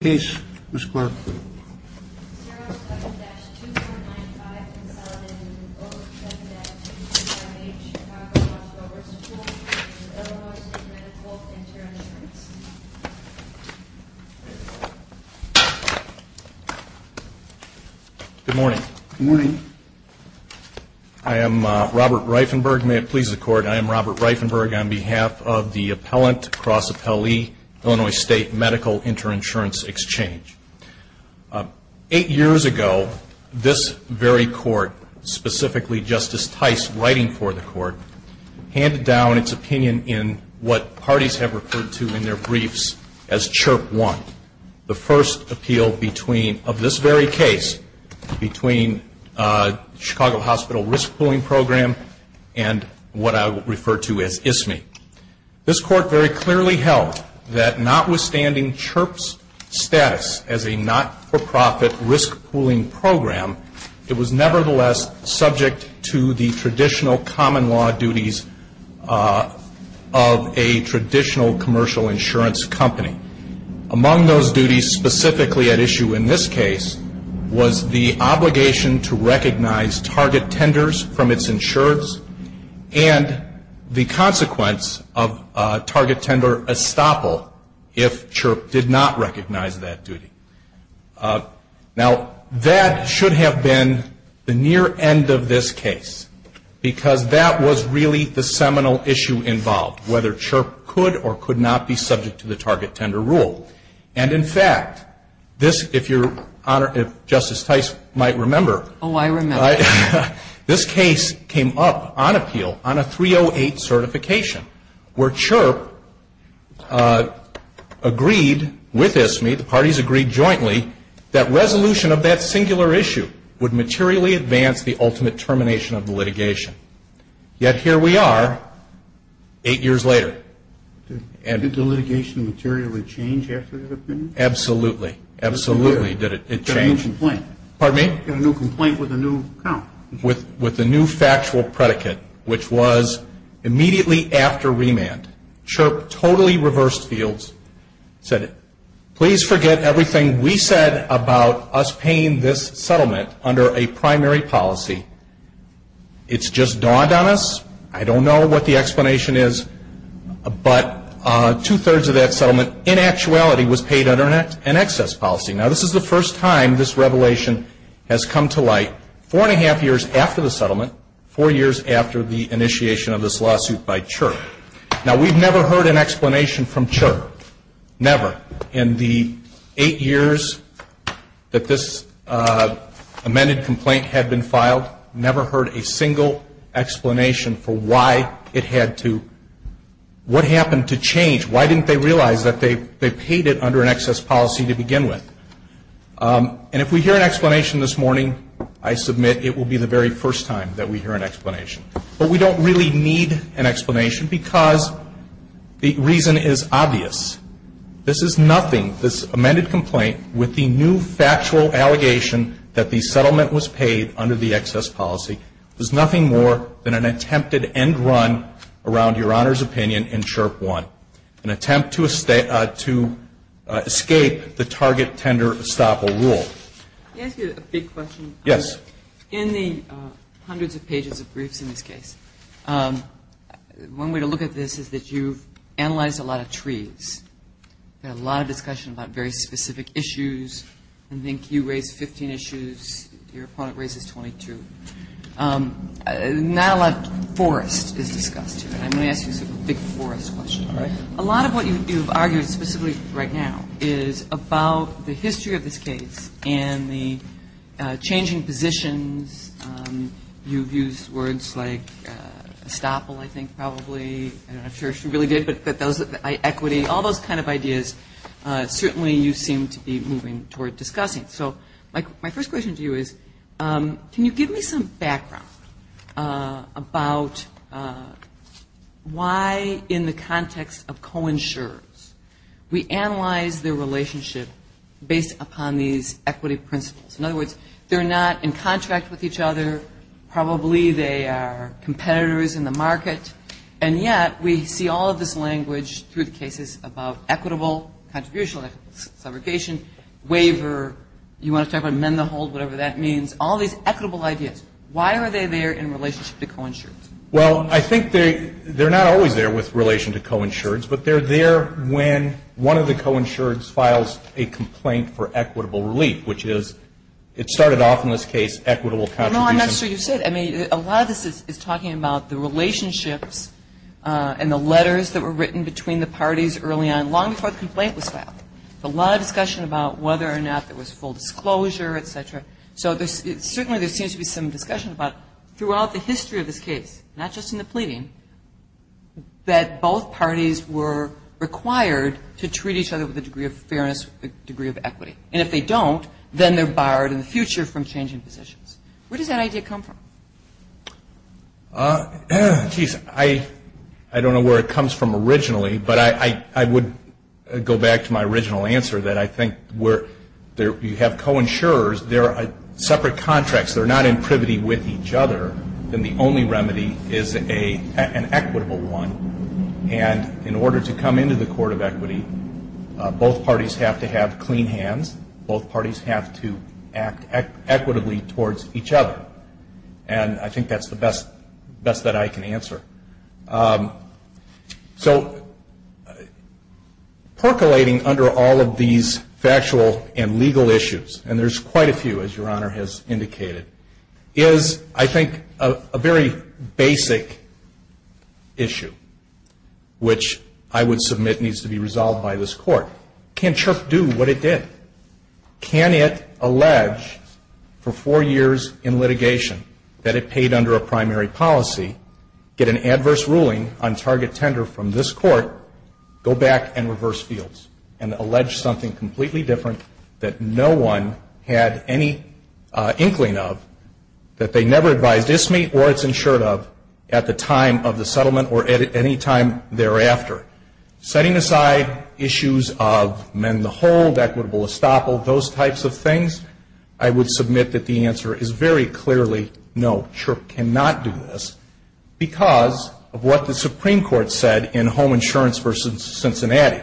Good morning. Good morning. I am Robert Reifenberg. May it please the court, I am Robert Reifenberg on behalf of the appellant, cross appellee, Illinois State Medical Inter-Insurance Exchange. Eight years ago, this very court, specifically Justice Tice writing for the court, handed down its opinion in what parties have referred to in their briefs as CHIRP 1, the first appeal between, of this very case, between Chicago Hospital Risk Pooling Program and what I will This court very clearly held that notwithstanding CHIRP's status as a not-for-profit risk pooling program, it was nevertheless subject to the traditional common law duties of a traditional commercial insurance company. Among those duties specifically at issue in this case was the obligation to recognize target tenders from its insurers and the consequence of target tender estoppel if CHIRP did not recognize that duty. Now, that should have been the near end of this case because that was really the seminal issue involved, whether CHIRP could or could not be subject to the target tender rule. And in fact, if Justice Tice might remember, this case came up on appeal on a 308 certification where CHIRP agreed with ISMI, the parties agreed jointly, that resolution of that singular issue would materially advance the ultimate termination of the litigation. Yet here we are, eight years later. Did the litigation materially change after the opinion? Absolutely. Absolutely. Did it change? Got a new complaint. Pardon me? Got a new complaint with a new account. With a new factual predicate, which was immediately after remand, CHIRP totally reversed fields, said, please forget everything we said about us paying this settlement under a primary policy. It's just dawned on us. I don't know what the explanation is. But two-thirds of that settlement in actuality was paid under an excess policy. Now, this is the first time this revelation has come to light four and a half years after the settlement, four years after the initiation of this lawsuit by CHIRP. Now, we've never heard an explanation from CHIRP. Never. In the eight years that this amended complaint had been filed, never heard a single explanation for why it had to, what happened to change? Why didn't they realize that they paid it under an excess policy to begin with? And if we hear an explanation this morning, I submit it will be the very first time that we hear an explanation. But we don't really need an explanation because the reason is obvious. This is nothing, this amended complaint with the new factual allegation that the settlement was paid under the excess policy, is nothing more than an attempted end run around Your Honor's opinion in CHIRP 1, an attempt to escape the target tender estoppel rule. Can I ask you a big question? Yes. In the hundreds of pages of briefs in this case, one way to look at this is that you've analyzed a lot of trees. There's a lot of discussion about very specific issues. I think you raised 15 issues. Your opponent raises 22. Not a lot of forest is discussed here. And I'm going to ask you a big forest question. All right. A lot of what you've argued, specifically right now, is about the history of this case and the changing positions. You've used words like estoppel, I think, probably. I'm not sure if she really did. But equity, all those kind of ideas, certainly you seem to be moving toward discussing. So my first question to you is, can you give me some background about why, in the context of co-insurers, we analyze their relationship based upon these equity principles? In other words, they're not in contract with each other. Probably they are competitors in the market. And yet, we see all of this language through the cases about equitable contribution, like subrogation, waiver. You want to talk about mend the hold, whatever that means. All these equitable ideas. Why are they there in relationship to co-insurers? Well, I think they're not always there with relation to co-insureds. But they're there when one of the co-insureds files a complaint for equitable relief, which is, it started off in this case, equitable contribution. No, I'm not sure you said. I mean, a lot of this is talking about the relationships and the letters that were written between the parties early on, long before the complaint was filed. A lot of discussion about whether or not there was full disclosure, et cetera. So certainly there seems to be some discussion about throughout the history of this case, not just in the pleading, that both parties were required to treat each other with a degree of fairness, a degree of equity. And if they don't, then they're barred in the future from changing positions. Where does that idea come from? I don't know where it comes from originally, but I would go back to my original answer that I think where you have co-insurers, they're separate contracts. They're not in privity with each other. Then the only remedy is an equitable one. And in order to come into the court of equity, both parties have to have clean hands. Both parties have to act equitably towards each other. And I think that's the best that I can answer. So percolating under all of these factual and legal issues, and there's quite a few, as Your Honor has indicated, is I think a very basic issue, which I would submit needs to be resolved by this Court. Can CHRP do what it did? Can it allege for four years in litigation that it paid under a primary policy, get an adverse ruling on target tender from this Court, go back and reverse fields and allege something completely different that no one had any inkling of, that they never advised ISME or its insured of at the time of the settlement or at any time thereafter? Setting aside issues of mend the hold, equitable estoppel, those types of things, I would submit that the answer is very clearly no, CHRP cannot do this because of what the Supreme Court said in Home Insurance v. Cincinnati.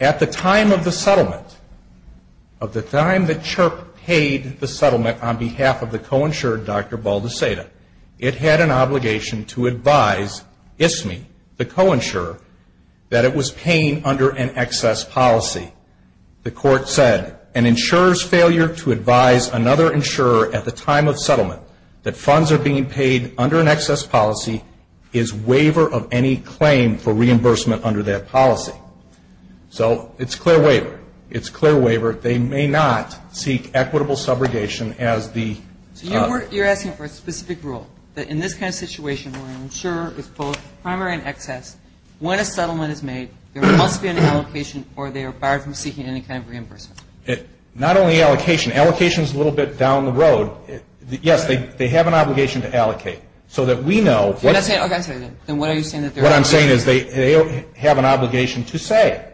At the time of the settlement, of the time that CHRP paid the settlement on behalf of the co-insured, Dr. Baldeceda, it had an obligation to advise ISME, the co-insurer, that it was paying under an excess policy. The Court said, an insurer's failure to advise another insurer at the time of settlement that funds are being paid under an excess policy is waiver of any claim for reimbursement under that policy. So it's clear waiver. It's clear waiver. They may not seek equitable subrogation as the... So you're asking for a specific rule that in this kind of situation where an insurer is both primary and excess, when a settlement is made, there must be an allocation or they are barred from seeking any kind of reimbursement? Not only allocation. Allocation is a little bit down the road. Yes, they have an obligation to allocate so that we know... What I'm saying is they have an obligation to say,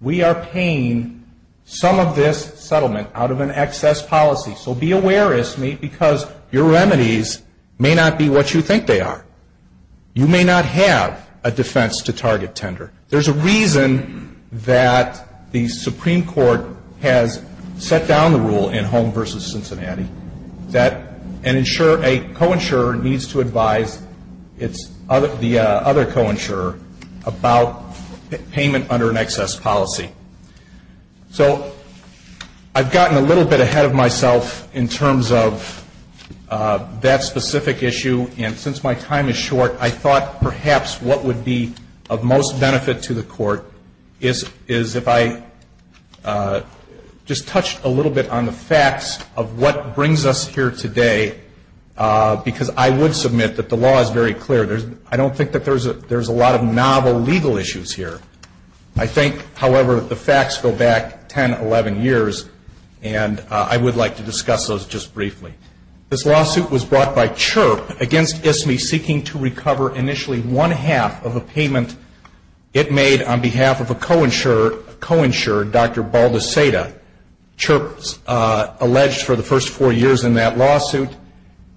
we are paying some of this settlement out of an excess policy. So be aware, ISME, because your remedies may not be what you think they are. You may not have a defense to target tender. There's a reason that the Supreme Court has set down the rule in Home v. Cincinnati that an insurer, a co-insurer, needs to advise the other co-insurer about payment under an excess policy. So I've gotten a little bit ahead of myself in terms of that specific issue. And since my time is short, I thought perhaps what would be of most benefit to the Court is if I just because I would submit that the law is very clear. I don't think that there's a lot of novel legal issues here. I think, however, the facts go back 10, 11 years, and I would like to discuss those just briefly. This lawsuit was brought by CHIRP against ISME seeking to recover initially one-half of a payment it made on behalf of a co-insurer, Dr. Baldassada. CHIRP alleged for the first four years in that lawsuit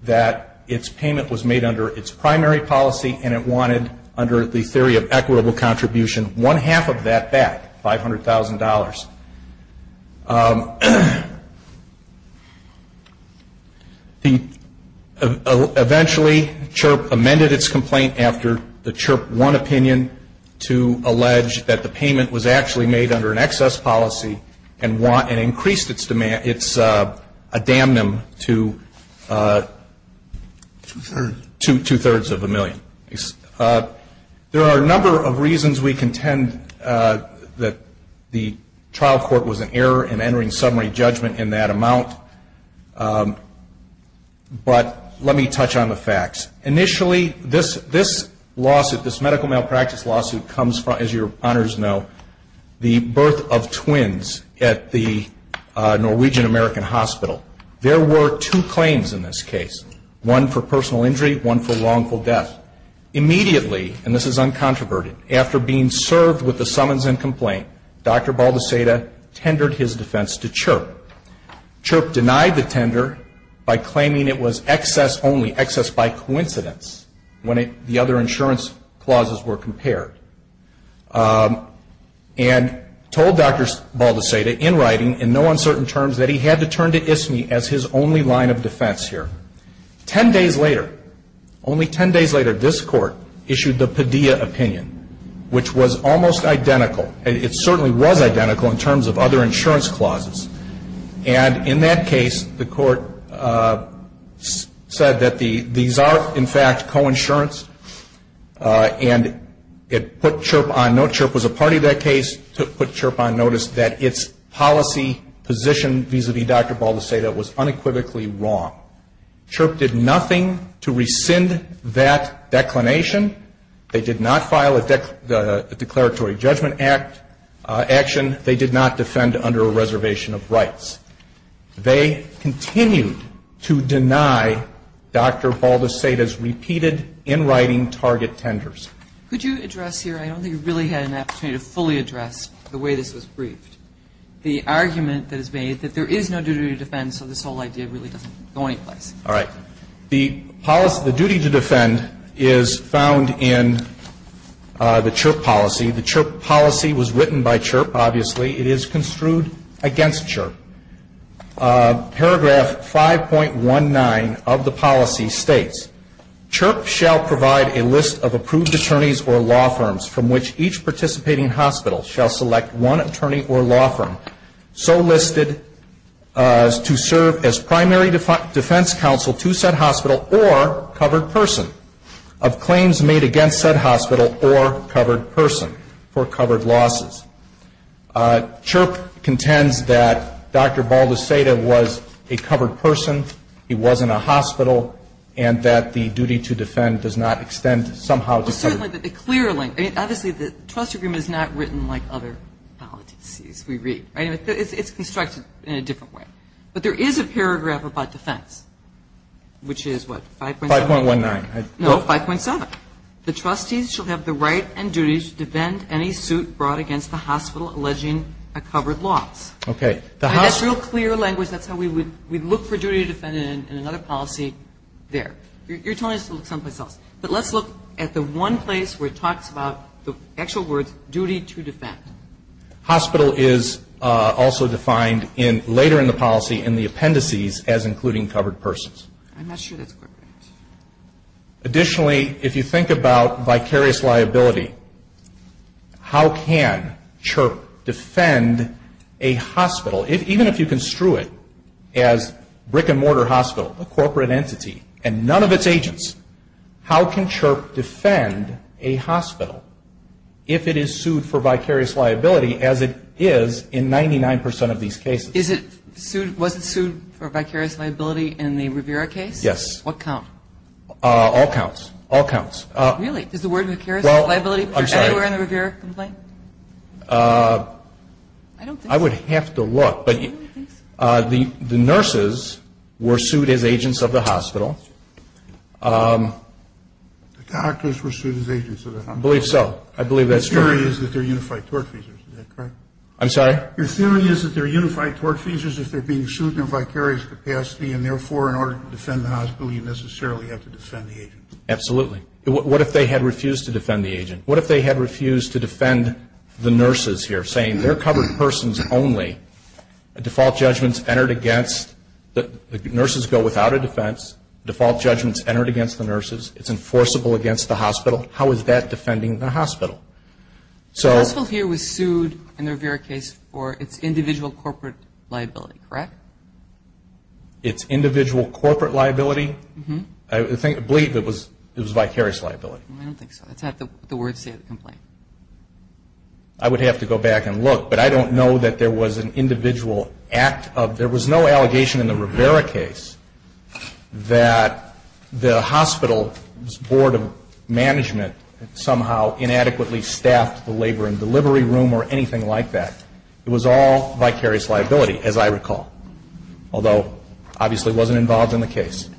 that its payment was made under its primary policy and it wanted, under the theory of equitable contribution, one-half of that back, $500,000. Eventually, CHIRP amended its complaint after the CHIRP won and increased its damnum to two-thirds of a million. There are a number of reasons we contend that the trial court was in error in entering summary judgment in that amount, but let me touch on the facts. Initially, this lawsuit, this medical malpractice lawsuit, comes from, as your honors know, the birth of twins at the Norwegian American Hospital. There were two claims in this case, one for personal injury, one for wrongful death. Immediately, and this is uncontroverted, after being served with the summons and complaint, Dr. Baldassada tendered his defense to CHIRP. CHIRP denied the tender by claiming it was excess only, excess by coincidence, when the other insurance clauses were compared, and told Dr. Baldassada, in writing, in no uncertain terms, that he had to turn to ISME as his only line of defense here. Ten days later, only ten days later, this court issued the Padilla opinion, which was almost identical. It certainly was identical in terms of other claims. The court, however, said that these are, in fact, coinsurance, and it put CHIRP on note, CHIRP was a party to that case, put CHIRP on notice that its policy position vis-a-vis Dr. Baldassada was unequivocally wrong. CHIRP did nothing to rescind that declination. They did not file a declaratory judgment action. They did not defend under a reservation of rights. They continued to deny Dr. Baldassada's repeated, in writing, target tenders. Could you address here, I don't think you really had an opportunity to fully address the way this was briefed, the argument that is made that there is no duty to defend, so this whole idea really doesn't go anyplace. All right. The duty to defend is found in the CHIRP policy. The CHIRP policy was written by CHIRP, obviously. It is construed against CHIRP. Paragraph 5.19 of the policy states, CHIRP shall provide a list of approved attorneys or law firms from which each participating hospital shall select one attorney or law firm so listed to serve as primary defense counsel to said hospital or covered person of claims made against said hospital or covered person for covered losses. CHIRP contends that Dr. Baldassada was a covered person, he was in a hospital, and that the duty to defend does not extend somehow to cover. Well, certainly, the clear link, I mean, obviously, the trust agreement is not written like other policies we read, right? It's constructed in a different way. But there is a paragraph about defense, which is what, 5.17? 5.19. No, 5.7. The trustees shall have the right and duty to defend any suit brought against the hospital alleging a covered loss. Okay. That's real clear language. That's how we would look for duty to defend in another policy there. You're telling us to look someplace else. But let's look at the one place where it talks about the actual words, duty to defend. Hospital is also defined later in the policy in the appendices as including covered persons. I'm not sure that's corporate. Additionally, if you think about vicarious liability, how can CHIRP defend a hospital? Even if you construe it as brick and mortar hospital, a corporate entity, and none of its agents, how can CHIRP defend a hospital if it is sued for vicarious liability as it is in 99 percent of these cases? Is it sued, was it sued for vicarious liability in the Rivera case? Yes. What count? All counts. All counts. Really? Is the word vicarious liability anywhere in the Rivera complaint? I don't think so. I would have to look. But the nurses were sued as agents of the hospital. The doctors were sued as agents of the hospital. I believe so. I believe that's true. The theory is that they're unified tort fees. Is that correct? I'm sorry? Your theory is that they're unified tort fees as if they're being sued in a vicarious capacity, and therefore, in order to defend the hospital, you necessarily have to defend the agent. Absolutely. What if they had refused to defend the agent? What if they had refused to defend the nurses here, saying they're covered persons only? A default judgment's entered against the nurses go without a defense. Default judgment's entered against the nurses. It's enforceable against the hospital. How is that defending the hospital? The hospital here was sued in the Rivera case for its individual corporate liability, correct? Its individual corporate liability? I believe it was vicarious liability. I don't think so. That's not the word to say in the complaint. I would have to go back and look. But I don't know that there was an individual act of, there was no allegation in the Rivera case that the hospital's board of management somehow inadequately staffed the labor and delivery room or anything like that. It was all vicarious liability, as I recall. Although, obviously, it wasn't involved in the case.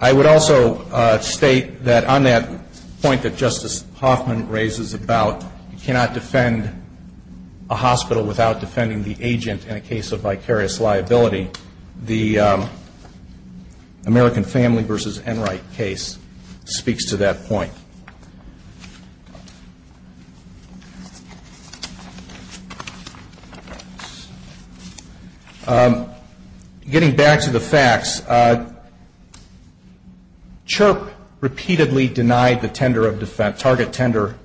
I would also state that on that point that Justice Hoffman raises about you cannot defend a hospital without defending the agent in a case of vicarious liability. The American Family v. Enright case speaks to that point. Getting back to the facts, CHRP repeatedly denied the tender of defense, target tender,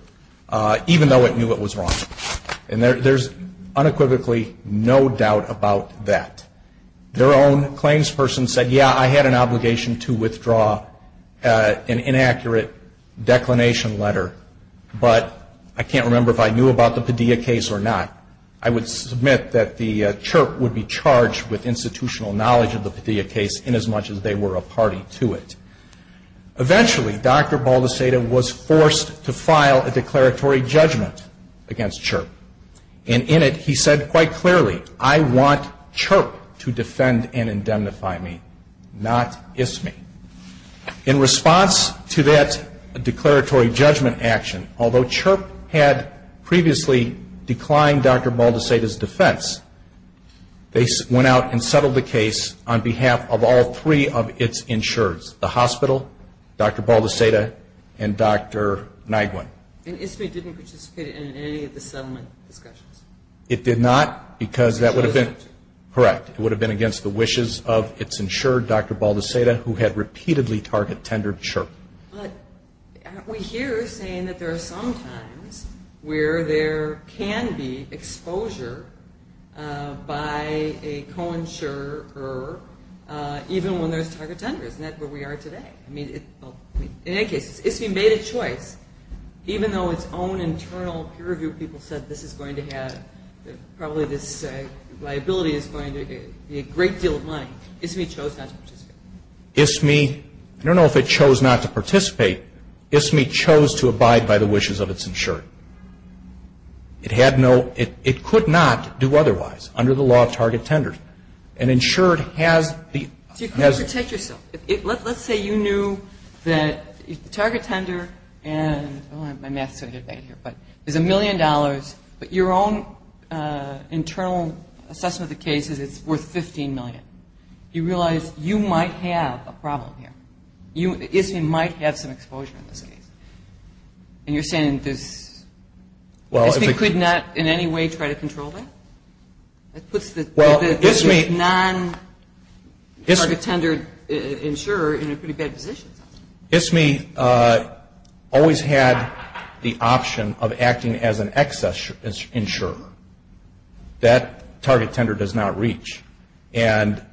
even though it knew it was wrong. And there's unequivocally no doubt about that. Their own claims person said, yeah, I had an obligation to withdraw an inaccurate declination letter, but I can't remember if I knew about the Padilla case or not. I would submit that the CHRP would be charged with institutional knowledge of the Padilla case inasmuch as they were a party to it. Eventually, Dr. Baldeceda was forced to file a declaratory judgment against CHRP. And in it, he said quite clearly, I want CHRP to defend and indemnify me, not ISME. In response to that declaratory judgment action, although CHRP had previously declined Dr. Baldeceda's defense, they went out and settled the case on behalf of all three of its insureds, the hospital, Dr. Baldeceda, and Dr. Nyguen. And ISME didn't participate in any of the settlement discussions? It did not, because that would have been, correct, it would have been against the wishes of its insured, Dr. Baldeceda, who had repeatedly target tendered CHRP. But aren't we here saying that there are some times where there can be exposure by a co-insurer, even when there's target tenders, and that's where we are today. In any case, ISME made a choice. Even though its own internal peer review people said this is going to have, probably this liability is going to be a great deal of money, ISME chose not to participate. ISME, I don't know if it chose not to participate, ISME chose to abide by the wishes of its insured. It had no, it could not do otherwise under the law of target tenders. An insured has the, has the So you couldn't protect yourself. Let's say you knew that the target tender and, my math is going to get bad here, is a million dollars, but your own internal assessment of the case is it's worth 15 million. You realize you might have a problem here. ISME might have some exposure in this case. And you're saying there's, ISME could not in any way try to control that? That puts the non-target tendered insurer in a pretty bad position. ISME always had the option of acting as an excess insurer. That target tender does not reach. And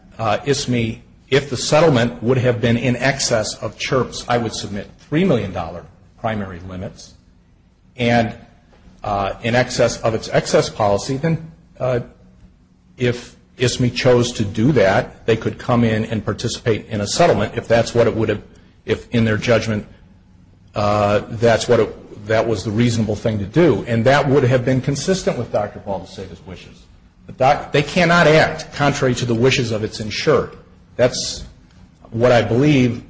ISME, if the settlement would have been in excess of CHIRPS, I would submit three million dollar primary limits. And in excess of its excess policy, then if ISME chose to do that, they could come in and participate in a settlement if that's what it would have, if in their judgment that's what, that was the reasonable thing to do. And that would have been consistent with Dr. Ball's wishes. They cannot act contrary to the wishes of its insured. That's what I believe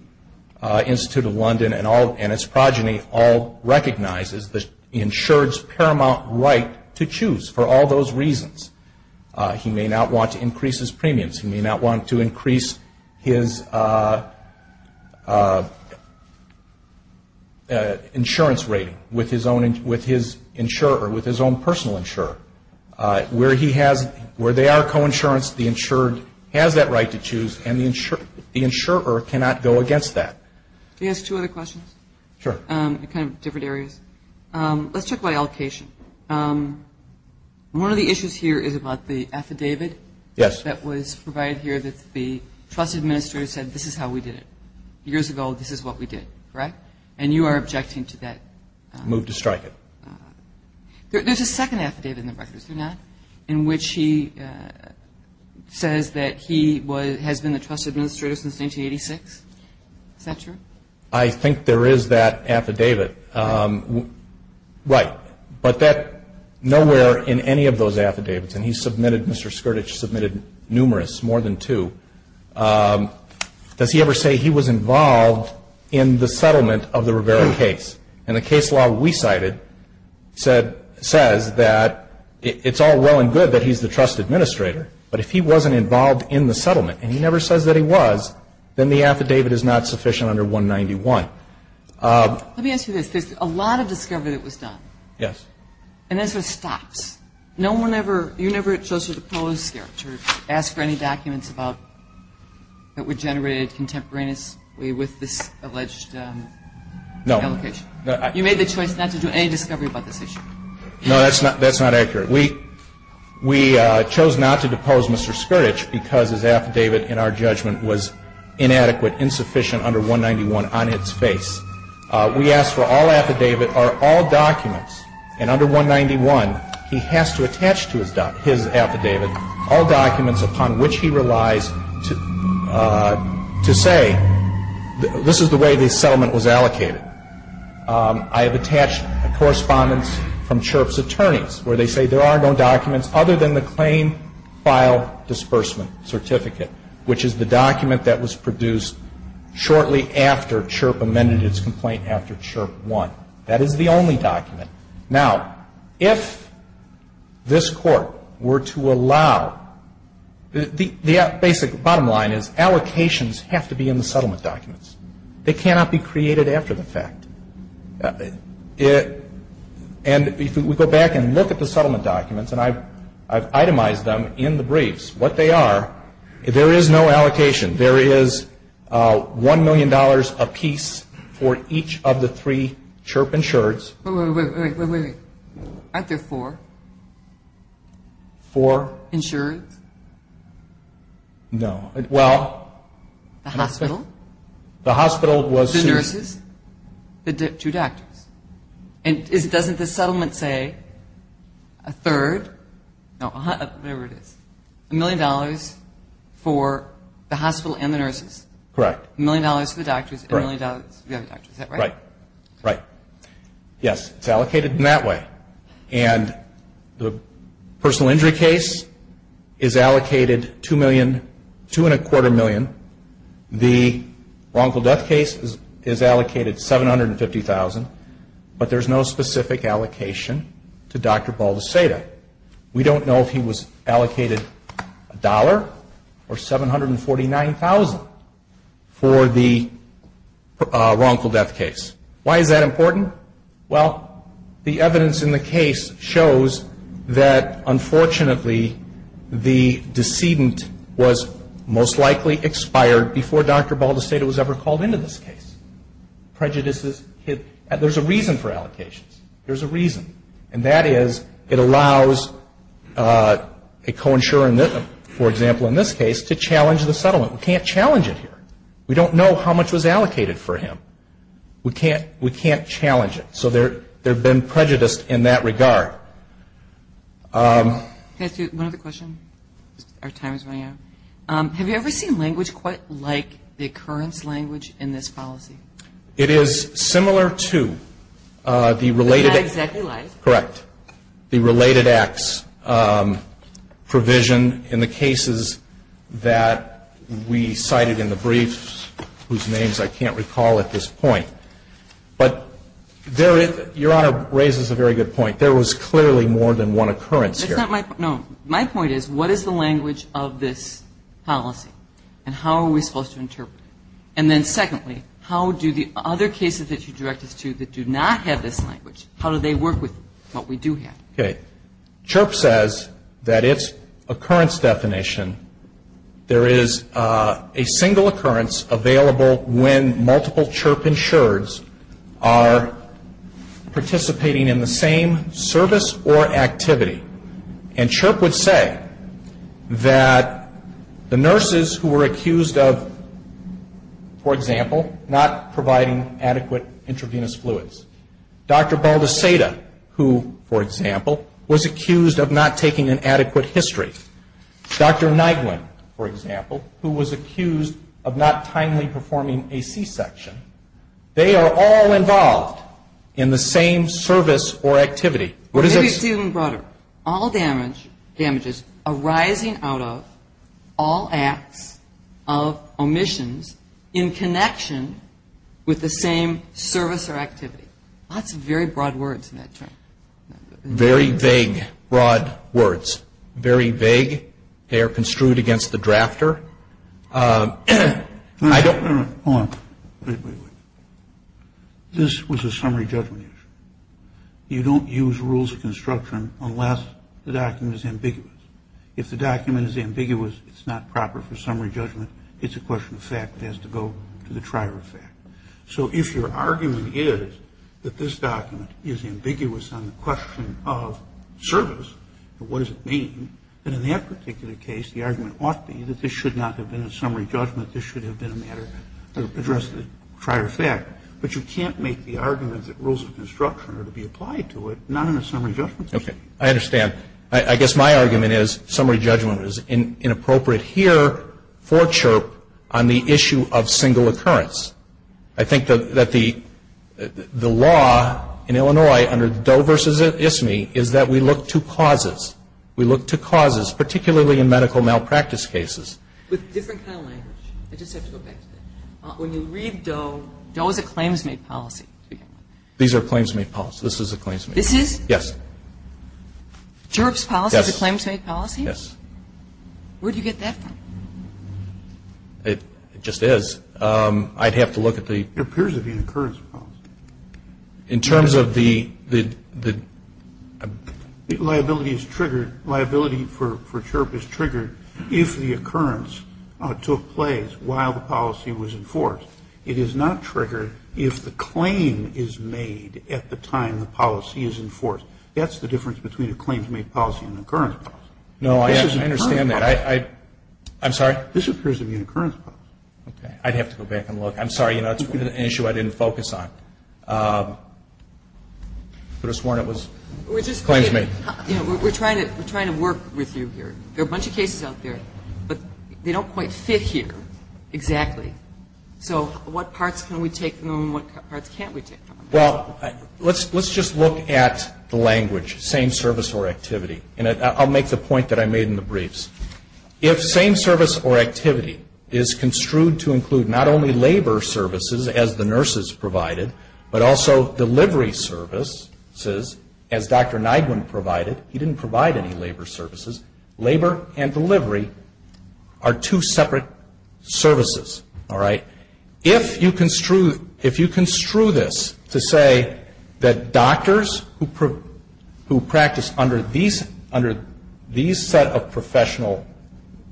Institute of London and all, and its progeny all recognize is the insured's paramount right to choose for all those reasons. He may not want to increase his premiums. He may not want to increase his insurance rating with his own, with his insurer, with his own personal insurer. Where he has, where they are coinsurance, the insured has that right to choose, and the insurer cannot go against that. Can I ask two other questions? Sure. Kind of different areas. Let's talk about allocation. One of the issues here is about the affidavit. Yes. That was provided here that the trust administrator said this is how we did it. Years ago, this is what we did. Correct? And you are objecting to that? Moved to strike it. There's a second affidavit in the records, is there not? In which he says that he was, has been the trust administrator since 1986. Is that true? I think there is that affidavit. Right. But that, nowhere in any of those affidavits, and he submitted, Mr. Skurdage submitted numerous, more than two, does he ever say he was involved in the settlement of the Rivera case? And the case law we cited said, says that it's all well and good that he's the trust administrator, but if he wasn't involved in the settlement, and he never says that he was, then the affidavit is not sufficient under 191. Let me ask you this. There's a lot of discovery that was done. Yes. And that sort of stops. No one ever, you're never closer to Poloskirch to ask for any documents about, that were generated contemporaneously with this alleged allocation? No. You made the choice not to do any discovery about this issue. No, that's not, that's not accurate. We, we chose not to depose Mr. Skurdage because his affidavit in our judgment was inadequate, insufficient under 191 on its face. We asked for all affidavit are all documents, and under 191, he has to attach to his doc, his affidavit, all documents upon which he relies to, to say, this is the way the settlement was allocated. I have attached correspondence from Chirp's attorneys, where they say there are no documents other than the claim file disbursement certificate, which is the document that was produced shortly after Chirp amended its complaint after Chirp won. That is the only document. Now, if this court were to allow, the, the basic bottom line is allocations have to be in the settlement documents. They cannot be created after the fact. It, and if we go back and look at the settlement documents, and I've, I've itemized them in the briefs, what they are, there is no allocation. There is $1 million apiece for each of the three Chirp insureds. Wait, wait, wait, wait, wait, wait. Aren't there four? Four? Insureds? No. Well. The hospital? The hospital was sued. The nurses? The two doctors? And is, doesn't the settlement say a third, no, whatever it is, $1 million for the hospital and the nurses? Correct. $1 million for the doctors, $1 million for the other doctors. Is that right? Right. Right. Yes. It's allocated in that way. And the personal injury case is allocated $2 million, $2.25 million. The wrongful death case is allocated $750,000, but there is no specific allocation to Dr. Baldeceda. We don't know if he was allocated $1 or $749,000 for the wrongful death case. Why is that important? Well, the evidence in the case shows that unfortunately the decedent was most likely expired before Dr. Baldeceda was ever called into this case. Prejudices, there's a reason for allocations. There's a reason. And that is it allows a co-insurer, for example in this case, to challenge the settlement. We can't challenge it here. We don't know how much was allocated for him. We can't challenge it. So there have been prejudiced in that regard. Can I ask you one other question? Our time is running out. Have you ever seen language quite like the occurrence language in this policy? It is similar to the related acts provision in the cases that we cited in the brief whose names I can't recall at this point. But there is, Your Honor raises a very good point. There was clearly more than one occurrence here. My point is what is the language of this policy? And how are we supposed to interpret it? And then secondly, how do the other cases that you direct us to that do not have this language, how do they work with what we do have? CHIRP says that its occurrence definition, there is a single occurrence available when multiple CHIRP insurers are participating in the same service or activity. And that CHIRP would say that the nurses who were accused of, for example, not providing adequate intravenous fluids, Dr. Baldaceta, who, for example, was accused of not taking an adequate history, Dr. Nyguen, for example, who was accused of not timely performing a C-section, they are all involved in the same service or activity. Maybe it's even broader. All damages arising out of all acts of omissions in connection with the same service or activity. Lots of very broad words in that term. Very vague, broad words. Very vague. They are construed against the drafter. I don't... Hold on. Wait, wait, wait. This was a summary judgment issue. You don't use rules of construction unless the document is ambiguous. If the document is ambiguous, it's not proper for summary judgment. It's a question of fact. It has to go to the trier of fact. So if your argument is that this document is ambiguous on the question of service, what does it mean? And in that particular case, the argument ought to be that this should not have been a summary judgment. This should have been a matter addressed at the trier of fact. But you can't make the argument that rules of construction are to be applied to it, not in a summary judgment. I understand. I guess my argument is summary judgment is inappropriate here for CHRP on the issue of single occurrence. I think that the law in Illinois under Doe v. Isme is that we look to causes. We look to causes, particularly in medical malpractice cases. With different kind of language. I just have to go back to that. When you read Doe, Doe is a claims-made policy. These are claims-made policies. This is a claims-made policy. This is? Yes. CHRP's policy is a claims-made policy? Yes. Where do you get that from? It just is. I'd have to look at the... It appears to be an occurrence policy. In terms of the... Liability is triggered. Liability for CHRP is triggered if the occurrence took place while the policy was enforced. It is not triggered if the claim is made at the time the policy is enforced. That's the difference between a claims-made policy and an occurrence policy. No, I understand that. I'm sorry? This appears to be an occurrence policy. Okay. I'd have to go back and look. I'm sorry. It's an issue I didn't focus on. But it's one that was claims-made. Claims-made. We're trying to work with you here. There are a bunch of cases out there, but they don't quite fit here exactly. So what parts can we take from them and what parts can't we take from them? Well, let's just look at the language, same service or activity. And I'll make the point that I made in the briefs. If same service or activity is construed to include not only what Dr. Nygren provided, he didn't provide any labor services, labor and delivery are two separate services. All right? If you construe this to say that doctors who practice under these set of professional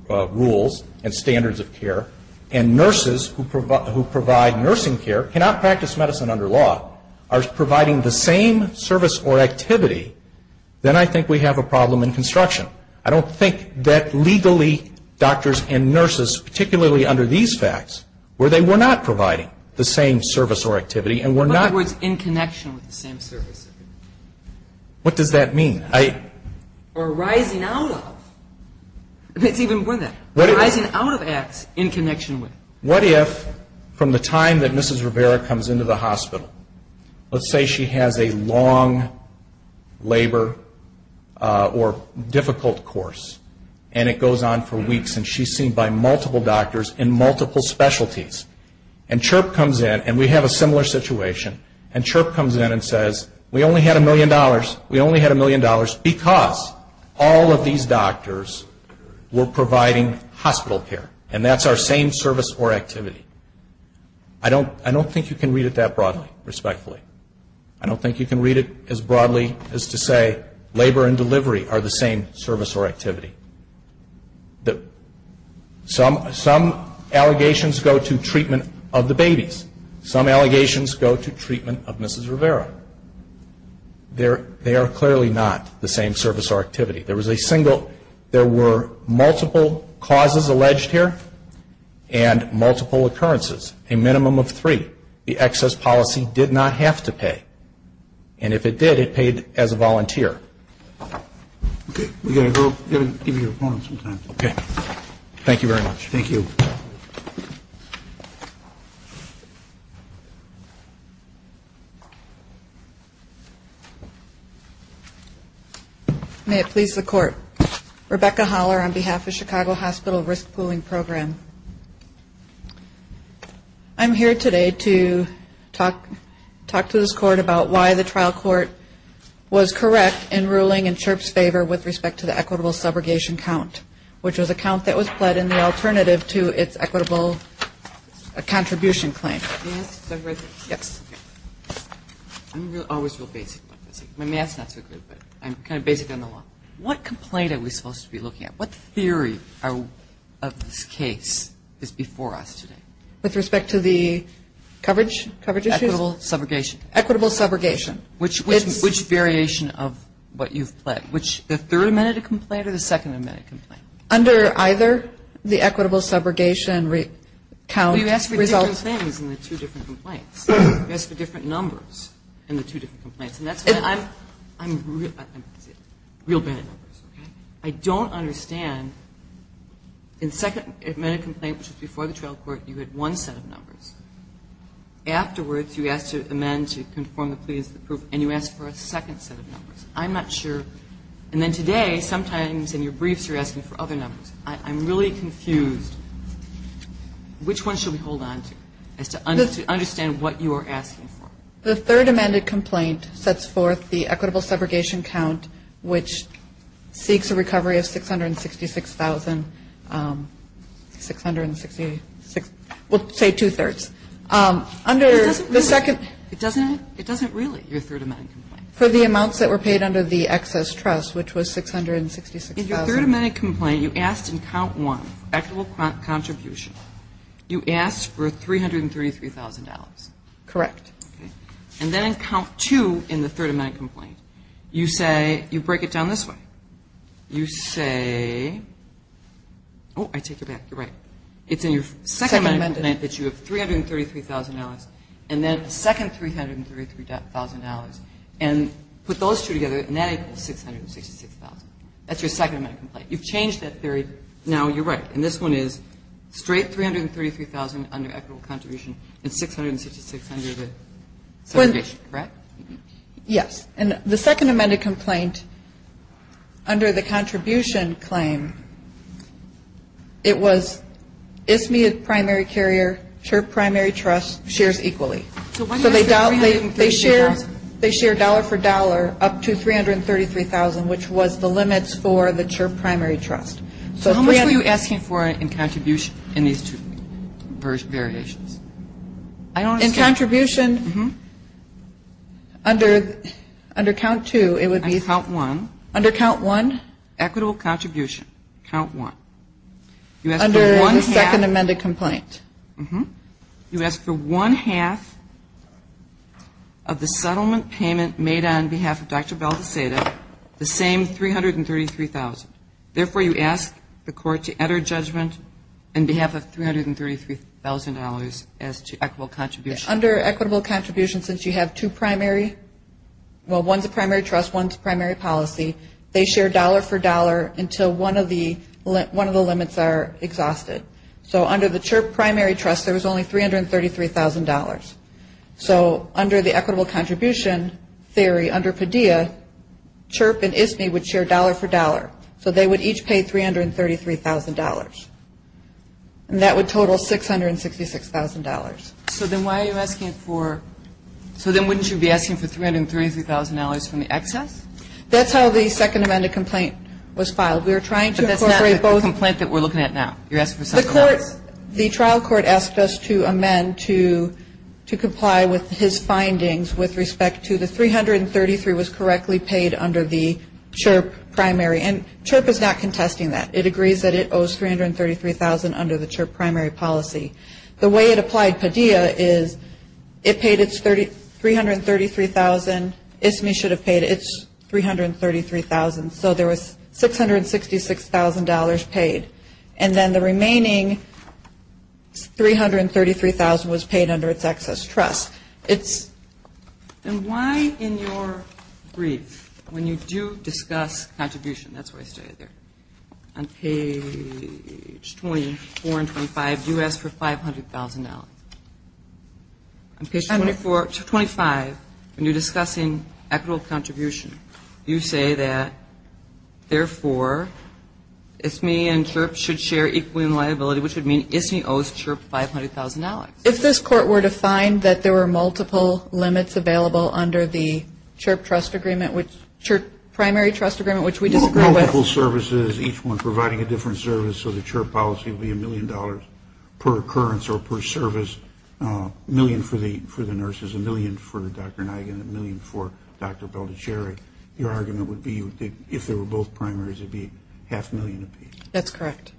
rules and standards of care and nurses who provide nursing care cannot practice medicine under law are providing the same service or activity, then I think we have a problem in construction. I don't think that legally doctors and nurses, particularly under these facts, were they were not providing the same service or activity and were not in connection with the same service. What does that mean? Or rising out of. It's even more than that. Rising out of acts in connection with. What if from the time that Mrs. Rivera comes into the hospital, let's say she has a long labor or difficult course and it goes on for weeks and she's seen by multiple doctors in multiple specialties and CHRP comes in and we have a similar situation and CHRP comes in and says, we only had a million dollars. We only had a million dollars because all of these doctors were providing hospital care and that's our same service or activity. I don't think you can read it that broadly, respectfully. I don't think you can read it as broadly as to say labor and delivery are the same service or activity. Some allegations go to treatment of the babies. Some allegations go to treatment of Mrs. Rivera. They are clearly not the same service or activity. There was a single, there were multiple causes alleged here and multiple occurrences. A minimum of three. The excess policy did not have to pay. And if it did, it paid as a volunteer. Okay. We've got to go. You've got to give your opponent some time. Okay. Thank you very much. Thank you. May it please the Court. Rebecca Holler on behalf of Chicago Hospital Risk Pooling Program. I'm here today to talk to this Court about why the trial court was correct in ruling in CHRP's favor with respect to the equitable subrogation count, which was a count that was deducted from the alternative to its equitable contribution claim. May I ask a question? Yes. My math is not so good, but I'm kind of basic on the law. What complaint are we supposed to be looking at? What theory of this case is before us today? With respect to the coverage? Equitable subrogation? Equitable subrogation. Which variation of what you've pledged, the Third Amendment complaint or the Second Amendment complaint? Under either, the equitable subrogation count results in the two different complaints. You ask for different numbers in the two different complaints. And that's why I'm real bad at numbers, okay? I don't understand. In the Second Amendment complaint, which was before the trial court, you had one set of numbers. Afterwards, you asked to amend to conform the plea as the proof, and you asked for a second set of numbers. I'm not sure. And then today, sometimes in your briefs, you're asking for other numbers. I'm really confused. Which one should we hold on to, as to understand what you are asking for? The Third Amendment complaint sets forth the equitable subrogation count, which seeks a recovery of $666,666, well, say two-thirds. Under the Second Amendment It doesn't really. It doesn't really, your Third Amendment complaint. For the amounts that were paid under the excess trust, which was $666,000. In your Third Amendment complaint, you asked in count one, equitable contribution, you asked for $333,000. Correct. Okay. And then in count two in the Third Amendment complaint, you say, you break it down this way. You say, oh, I take it back. You're right. It's in your Second Amendment that you have $333,000, and then second $333,000. And put those two together, and that equals $666,000. That's your Second Amendment complaint. You've changed that theory. Now, you're right. And this one is straight $333,000 under equitable contribution, and $666,000 under the subrogation. Correct? Yes. And the Second Amendment complaint, under the contribution claim, it was Ismead primary carrier, her primary trust, shares equally. So why do they say $333,000? They share dollar for dollar up to $333,000, which was the limits for the primary trust. So how much were you asking for in contribution in these two variations? In contribution, under count two, it would be. Under count one. Under count one. Equitable contribution, count one. Under the Second Amendment complaint. You ask for one-half of the settlement payment made on behalf of Dr. Bell-Deseda, the same $333,000. Therefore, you ask the court to enter judgment on behalf of $333,000 as to equitable contribution. Under equitable contribution, since you have two primary, well, one's a primary trust, one's a primary policy, they share dollar for dollar until one of the two primary trusts, there was only $333,000. So under the equitable contribution theory, under Padilla, Chirp and Ismead would share dollar for dollar. So they would each pay $333,000. And that would total $666,000. So then why are you asking for, so then wouldn't you be asking for $333,000 from the excess? That's how the Second Amendment complaint was filed. We were trying to incorporate both. But that's not the complaint that we're looking at now. You're asking for something else. The trial court asked us to amend to comply with his findings with respect to the $333,000 was correctly paid under the Chirp primary. And Chirp is not contesting that. It agrees that it owes $333,000 under the Chirp primary policy. The way it applied Padilla is it paid its $333,000. Ismead should have paid its $333,000. So there was $666,000 paid. And then the remaining $333,000 was paid under its excess trust. And why in your brief, when you do discuss contribution, that's why I stay there, on page 24 and 25, do you ask for $500,000? On page 24 to 25, when you're discussing equitable contribution, you say that, therefore, Ismead and Chirp should share equal liability, which would mean Ismead owes Chirp $500,000. If this court were to find that there were multiple limits available under the Chirp trust agreement, Chirp primary trust agreement, which we disagree with. Multiple services, each one providing a different service, so the Chirp policy would be $1 million per occurrence or per service, $1 million for the nurses, $1 million for Dr. Nygaard, and $1 million for Dr. Belicherry, your argument would be, if there were both primaries, it would be half a million apiece. That's correct.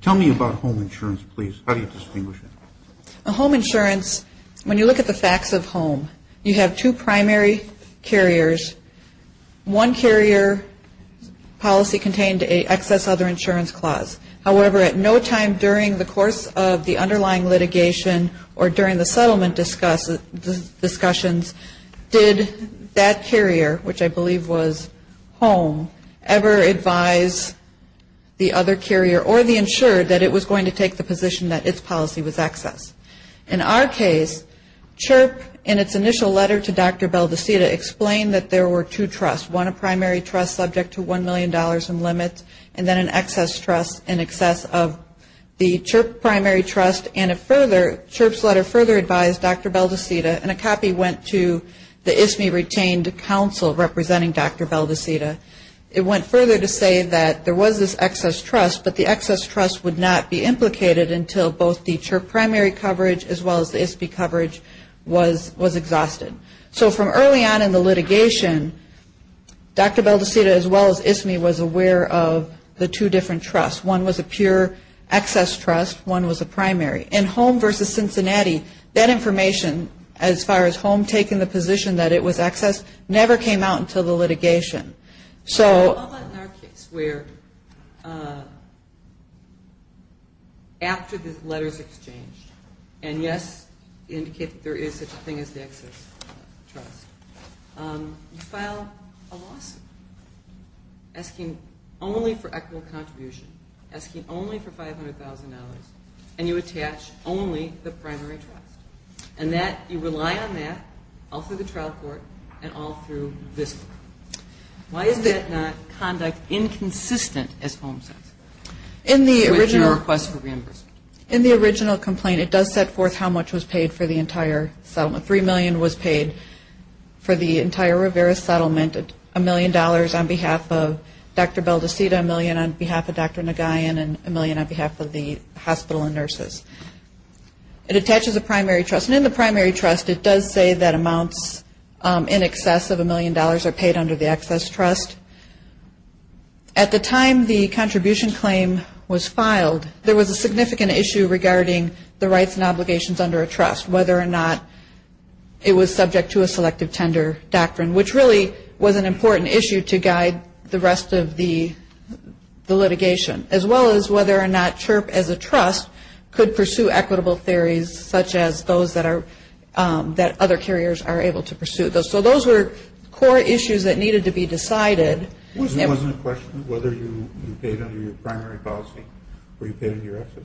Tell me about home insurance, please. How do you distinguish it? Home insurance, when you look at the facts of home, you have two primary carriers. One carrier policy contained an excess other insurance clause. However, at no time during the course of the underlying litigation or during the settlement discussions did that carrier, which I believe was home, ever advise the other carrier or the insured that it was going to take the position that its policy was excess. In our case, Chirp, in its initial letter to Dr. Beldesita, explained that there were two trusts, one a primary trust subject to $1 million in limits, and then an excess trust in excess of the Chirp primary trust, and it further, Chirp's letter further advised Dr. Beldesita, and a copy went to the ISME retained council representing Dr. Beldesita. It went further to say that there was this excess trust, but the excess trust would not be implicated until both the Chirp primary coverage as well as the ISPE coverage was exhausted. So from early on in the litigation, Dr. Beldesita, as well as ISME, was aware of the two different trusts. One was a pure excess trust. One was a primary. In Home v. Cincinnati, that information, as far as Home taking the position that it was excess, never came out until the litigation. I'll let in our case where after the letters exchanged, and, yes, indicate that there is such a thing as the excess trust, you file a lawsuit asking only for equitable contribution, asking only for $500,000, and you attach only the primary trust. And you rely on that all through the trial court and all through this court. Why is that not conduct inconsistent as Home says with your request for reimbursement? In the original complaint, it does set forth how much was paid for the entire settlement. Three million was paid for the entire Rivera settlement, a million dollars on behalf of Dr. Beldesita, a million on behalf of Dr. Nagayan, and a million on behalf of the hospital and nurses. It attaches a primary trust. And in the primary trust, it does say that amounts in excess of a million dollars are paid under the excess trust. At the time the contribution claim was filed, whether or not it was subject to a selective tender doctrine, which really was an important issue to guide the rest of the litigation, as well as whether or not CHRP as a trust could pursue equitable theories, such as those that other carriers are able to pursue. So those were core issues that needed to be decided. It wasn't a question of whether you paid under your primary policy or you paid under your excess.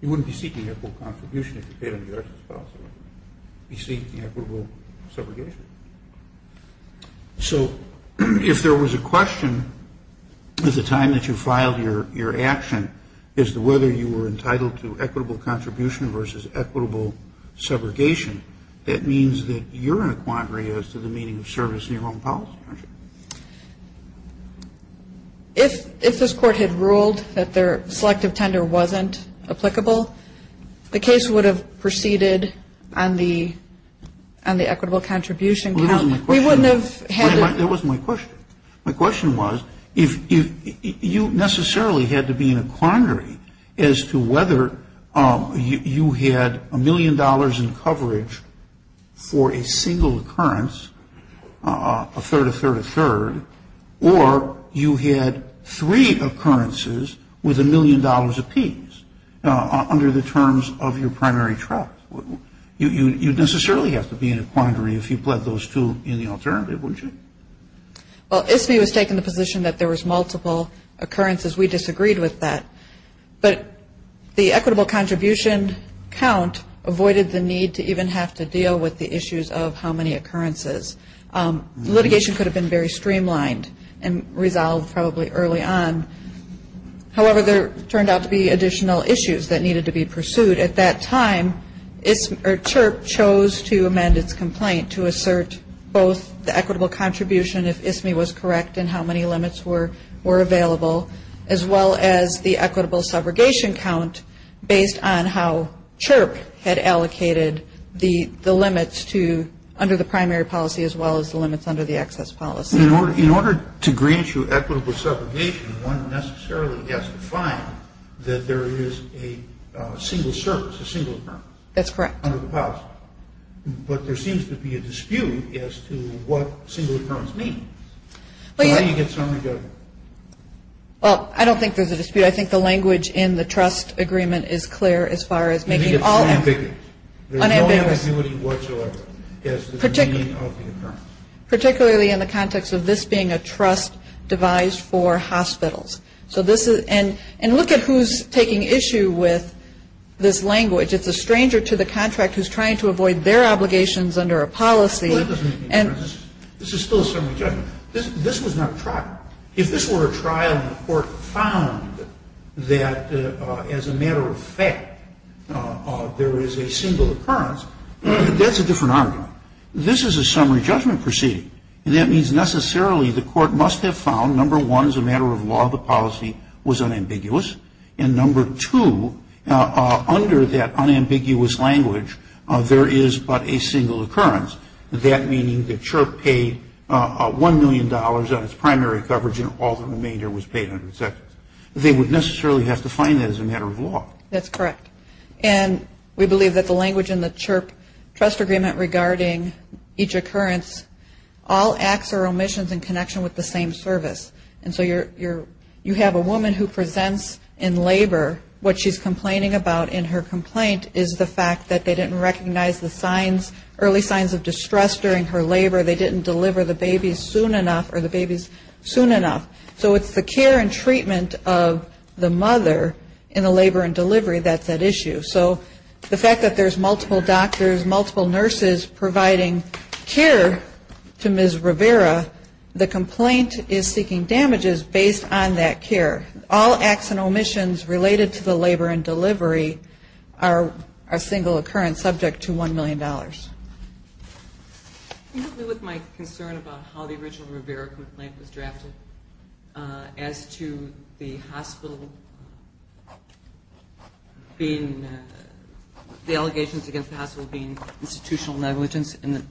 You wouldn't be seeking equitable contribution if you paid under your excess policy. You'd be seeking equitable subrogation. So if there was a question at the time that you filed your action as to whether you were entitled to equitable contribution versus equitable subrogation, that means that you're in a quandary as to the meaning of service in your own policy, aren't you? If this Court had ruled that their selective tender wasn't applicable, the case would have proceeded on the equitable contribution count. We wouldn't have had to. That wasn't my question. My question was if you necessarily had to be in a quandary as to whether you had a million dollars in coverage for a single occurrence, a third, a third, a third, or you had three occurrences with a million dollars apiece under the terms of your primary trust. You'd necessarily have to be in a quandary if you pled those two in the alternative, wouldn't you? Well, ISBI was taking the position that there was multiple occurrences. We disagreed with that. But the equitable contribution count avoided the need to even have to deal with the issues of how many occurrences. Litigation could have been very streamlined and resolved probably early on. However, there turned out to be additional issues that needed to be pursued. At that time, CHIRP chose to amend its complaint to assert both the equitable contribution if ISMI was correct and how many limits were available as well as the equitable subrogation count based on how CHIRP had allocated the limits to under the primary policy as well as the limits under the access policy. In order to agree to equitable subrogation, one necessarily has to find that there is a single service, a single occurrence. That's correct. But there seems to be a dispute as to what single occurrence means. Well, I don't think there's a dispute. I think the language in the trust agreement is clear as far as making all ambiguous. There's no ambiguity whatsoever as to the meaning of the occurrence. Particularly in the context of this being a trust devised for hospitals. And look at who's taking issue with this language. It's a stranger to the contract who's trying to avoid their obligations under a policy. This is still a summary judgment. This was not a trial. If this were a trial and the court found that as a matter of fact there is a single occurrence, that's a different argument. This is a summary judgment proceeding. That means necessarily the court must have found, number one, as a matter of law, the policy was unambiguous. And number two, under that unambiguous language, there is but a single occurrence. That meaning the CHRP paid $1 million on its primary coverage and all the remainder was paid on its second. They would necessarily have to find that as a matter of law. That's correct. And we believe that the language in the CHRP trust agreement regarding each occurrence, all acts are omissions in connection with the same service. And so you have a woman who presents in labor. What she's complaining about in her complaint is the fact that they didn't recognize the signs, early signs of distress during her labor. They didn't deliver the babies soon enough or the babies soon enough. So it's the care and treatment of the mother in the labor and delivery that's at issue. So the fact that there's multiple doctors, multiple nurses providing care to Ms. Rivera, the complaint is seeking damages based on that care. All acts and omissions related to the labor and delivery are a single occurrence subject to $1 million. I agree with my concern about how the original Rivera complaint was drafted as to the hospital being, the allegations against the hospital being institutional negligence and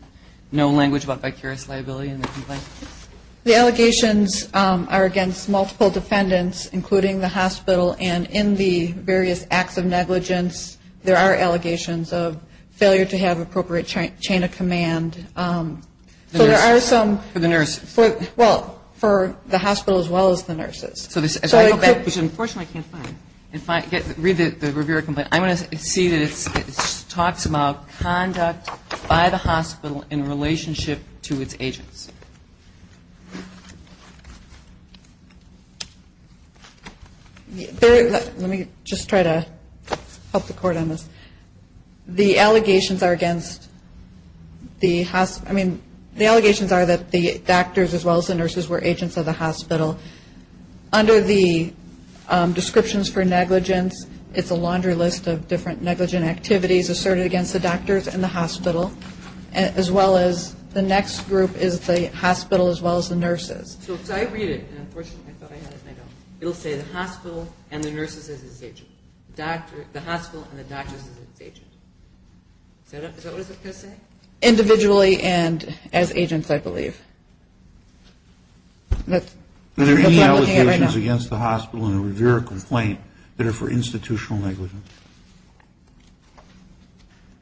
no language about vicarious liability in the complaint. The allegations are against multiple defendants, including the hospital. And in the various acts of negligence, there are allegations of failure to have appropriate chain of command. So there are some. For the nurse. Well, for the hospital as well as the nurses. Unfortunately, I can't find it. Read the Rivera complaint. I'm going to see that it talks about conduct by the hospital in relationship to its agents. Let me just try to help the Court on this. The allegations are against the hospital. I mean, the allegations are that the doctors as well as the nurses were agents of the hospital. Under the descriptions for negligence, it's a laundry list of different negligent activities asserted against the doctors and the hospital, as well as the next group is the hospital as well as the nurses. So if I read it, and unfortunately I thought I had it and I don't, it will say the hospital and the nurses as its agents. The hospital and the doctors as its agents. Is that what it's going to say? Individually and as agents, I believe. That's what I'm looking at right now. Are there any allegations against the hospital in the Rivera complaint that are for institutional negligence?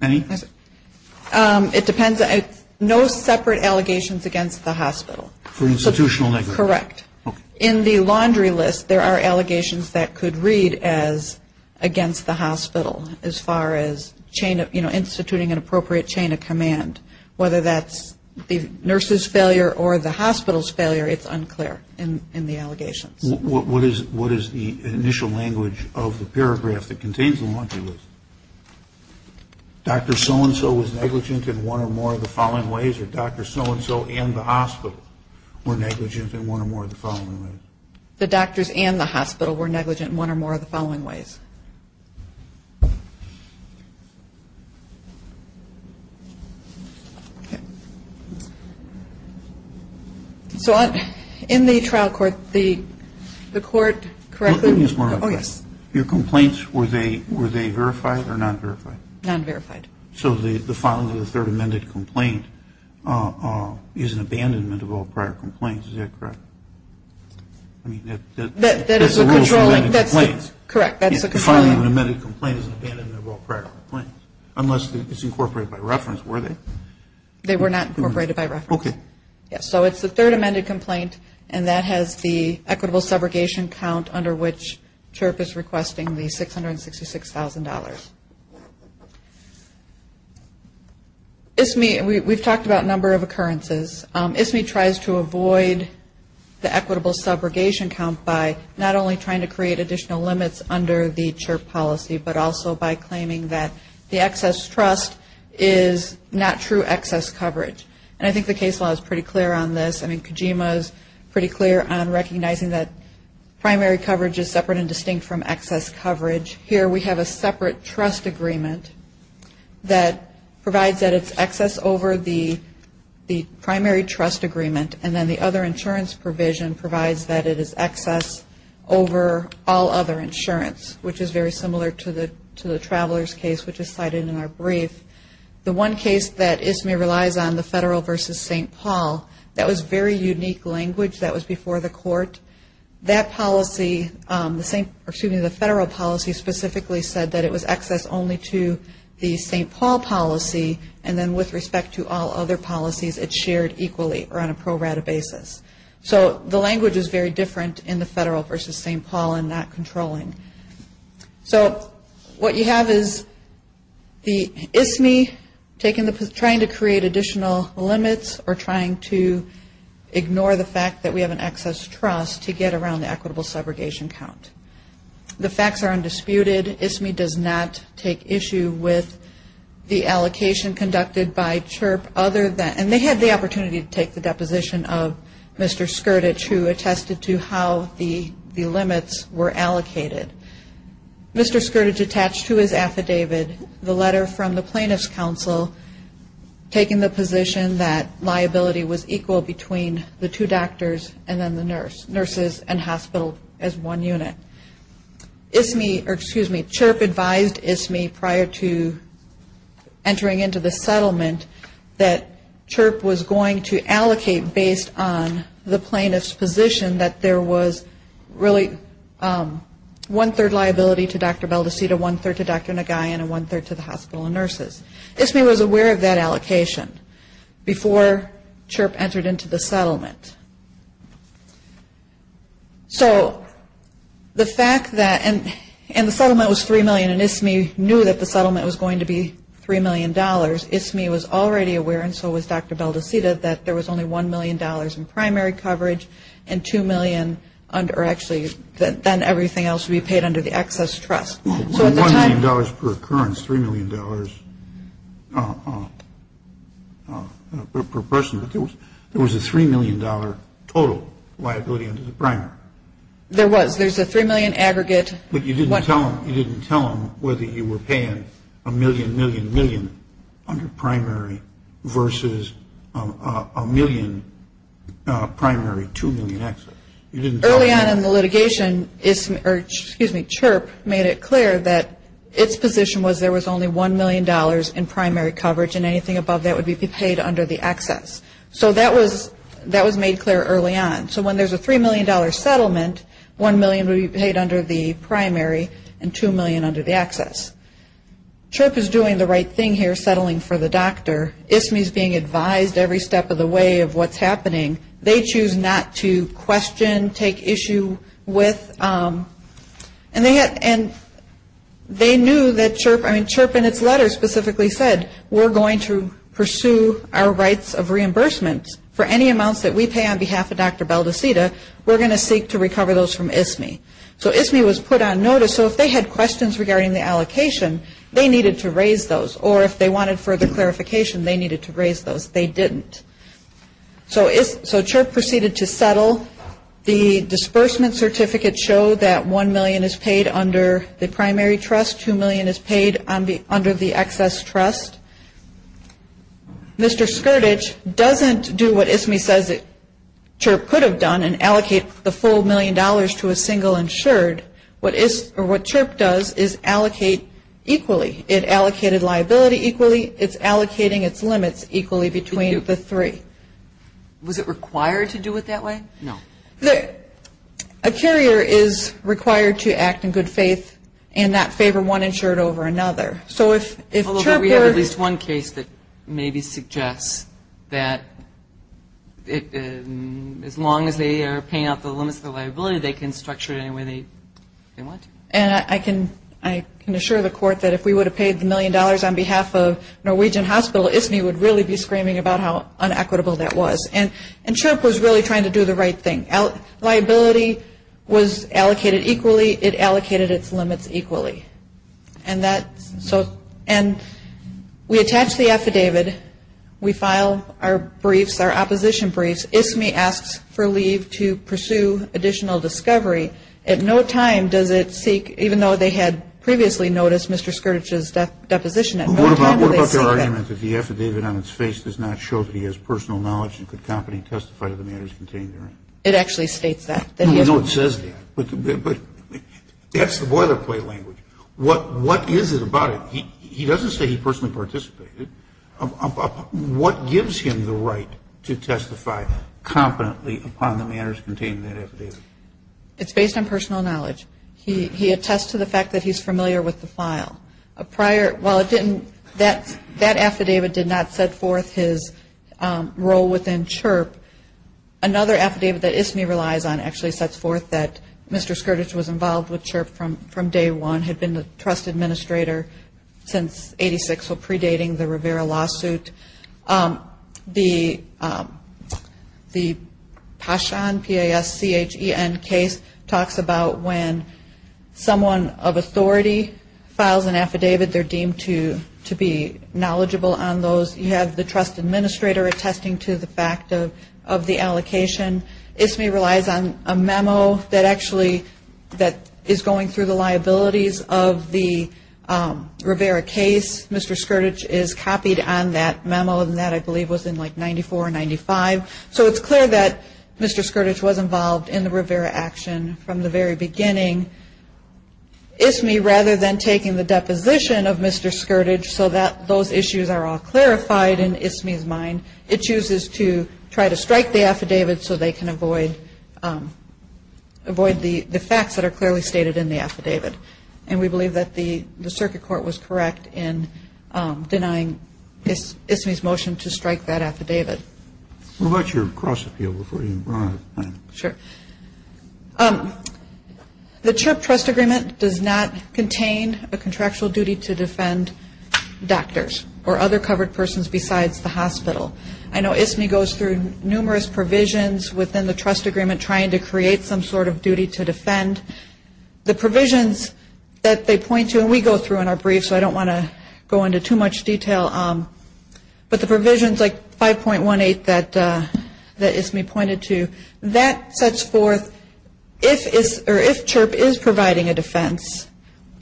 Any? It depends. No separate allegations against the hospital. For institutional negligence. Correct. In the laundry list, there are allegations that could read as against the hospital, as far as instituting an appropriate chain of command, whether that's the nurse's failure or the hospital's failure, it's unclear in the allegations. What is the initial language of the paragraph that contains the laundry list? Dr. So-and-so was negligent in one or more of the following ways, or Dr. So-and-so and the hospital were negligent in one or more of the following ways? The doctors and the hospital were negligent in one or more of the following ways? So in the trial court, the court, correct me? Oh, yes. Your complaints, were they verified or non-verified? Non-verified. So the filing of the third amended complaint is an abandonment of all prior complaints, is that correct? I mean, that's a rule for amended complaints. Correct, that's a controlling. The filing of an amended complaint is an abandonment of all prior complaints, unless it's incorporated by reference, were they? They were not incorporated by reference. Okay. Yes, so it's the third amended complaint, and that has the equitable subrogation count under which CHIRP is requesting the $666,000. ISME, we've talked about a number of occurrences. ISME tries to avoid the equitable subrogation count by not only trying to create additional limits under the CHIRP policy, but also by claiming that the excess trust is not true excess coverage. And I think the case law is pretty clear on this. I mean, Kojima is pretty clear on recognizing that primary coverage is separate and distinct from excess coverage. Here we have a separate trust agreement that provides that it's excess over the primary trust agreement, and then the other insurance provision provides that it is excess over all other insurance, which is very similar to the traveler's case, which is cited in our brief. The one case that ISME relies on, the federal versus St. Paul, that was very unique language. That was before the court. That policy, the federal policy specifically said that it was excess only to the St. Paul policy, and then with respect to all other policies, it's shared equally or on a pro rata basis. So the language is very different in the federal versus St. Paul and not controlling. So what you have is the ISME trying to create additional limits or trying to ignore the fact that we have an excess trust to get around the equitable subrogation count. The facts are undisputed. ISME does not take issue with the allocation conducted by CHIRP other than, and they had the opportunity to take the deposition of Mr. Skirdage, who attested to how the limits were allocated. Mr. Skirdage attached to his affidavit the letter from the Plaintiff's Council taking the position that liability was equal between the two doctors and then the nurses and hospital as one unit. CHIRP advised ISME prior to entering into the settlement that CHIRP was going to allocate based on the plaintiff's position that there was really one-third liability to Dr. Baldacita, one-third to Dr. Nagayan, and one-third to the hospital and nurses. ISME was aware of that allocation before CHIRP entered into the settlement. So the fact that, and the settlement was $3 million, and ISME knew that the settlement was going to be $3 million. ISME was already aware, and so was Dr. Baldacita, that there was only $1 million in primary coverage and $2 million, or actually then everything else would be paid under the excess trust. So at the time... total liability under the primary. There was. There's a $3 million aggregate... But you didn't tell them whether you were paying a million, million, million under primary versus a million primary, $2 million excess. Early on in the litigation, CHIRP made it clear that its position was there was only $1 million in primary coverage and anything above that would be paid under the excess. So that was made clear early on. So when there's a $3 million settlement, $1 million would be paid under the primary and $2 million under the excess. CHIRP is doing the right thing here, settling for the doctor. ISME is being advised every step of the way of what's happening. They choose not to question, take issue with. And they knew that CHIRP... for any amounts that we pay on behalf of Dr. Baldacita, we're going to seek to recover those from ISME. So ISME was put on notice. So if they had questions regarding the allocation, they needed to raise those. Or if they wanted further clarification, they needed to raise those. They didn't. So CHIRP proceeded to settle. The disbursement certificates show that $1 million is paid under the primary trust, $2 million is paid under the excess trust. Mr. Skirdage doesn't do what ISME says CHIRP could have done and allocate the full $1 million to a single insured. What CHIRP does is allocate equally. It allocated liability equally. It's allocating its limits equally between the three. Was it required to do it that way? No. A carrier is required to act in good faith and not favor one insured over another. We have at least one case that maybe suggests that as long as they are paying out the limits of the liability, they can structure it any way they want to. And I can assure the court that if we would have paid the $1 million on behalf of Norwegian Hospital, ISME would really be screaming about how inequitable that was. And CHIRP was really trying to do the right thing. Liability was allocated equally. It allocated its limits equally. And we attach the affidavit. We file our briefs, our opposition briefs. ISME asks for leave to pursue additional discovery. At no time does it seek, even though they had previously noticed Mr. Skirdage's deposition, at no time do they seek that. What about their argument that the affidavit on its face does not show that he has personal knowledge and could confidently testify to the matters contained therein? It actually states that. I know it says that, but that's the boilerplate language. What is it about it? He doesn't say he personally participated. What gives him the right to testify confidently upon the matters contained in that affidavit? It's based on personal knowledge. He attests to the fact that he's familiar with the file. While it didn't, that affidavit did not set forth his role within CHIRP. Another affidavit that ISME relies on actually sets forth that Mr. Skirdage was involved with CHIRP from day one, had been the trust administrator since 1986, so predating the Rivera lawsuit. The Paschan, P-A-S-C-H-E-N, case talks about when someone of authority files an affidavit, they're deemed to be knowledgeable on those. You have the trust administrator attesting to the fact of the allocation. ISME relies on a memo that actually is going through the liabilities of the Rivera case. Mr. Skirdage is copied on that memo, and that, I believe, was in, like, 94 or 95. So it's clear that Mr. Skirdage was involved in the Rivera action from the very beginning. We believe that the Circuit Court was correct in denying the affidavit to Mr. Skirdage, and we believe that the Circuit Court was correct in denying ISME rather than taking the deposition of Mr. Skirdage so that those issues are all clarified in ISME's mind. It chooses to try to strike the affidavit so they can avoid the facts that are clearly stated in the affidavit. And we believe that the Circuit Court was correct in denying ISME's motion to strike that affidavit. What about your cross-appeal before you run out of time? Sure. The CHIRP trust agreement does not contain a contractual duty to defend doctors or other covered persons besides the hospital. I know ISME goes through numerous provisions within the trust agreement trying to create some sort of duty to defend. The provisions that they point to, and we go through in our brief so I don't want to go into too much detail, but the provisions like 5.18 that ISME pointed to, that sets forth if CHIRP is providing a defense,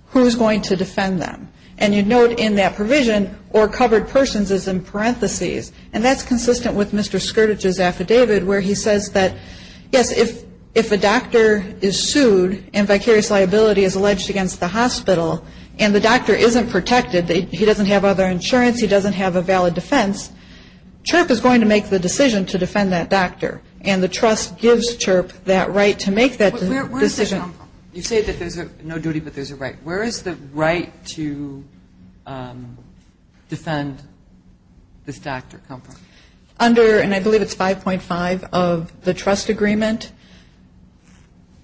who is going to defend them? And you note in that provision, or covered persons is in parentheses, and that's consistent with Mr. Scourge's affidavit where he says that, yes, if a doctor is sued and vicarious liability is alleged against the hospital and the doctor isn't protected, he doesn't have other insurance, he doesn't have a valid defense, CHIRP is going to make the decision to defend that doctor. And the trust gives CHIRP that right to make that decision. Where is this coming from? You say that there's no duty but there's a right. Where is the right to defend this doctor come from? Under, and I believe it's 5.5 of the trust agreement,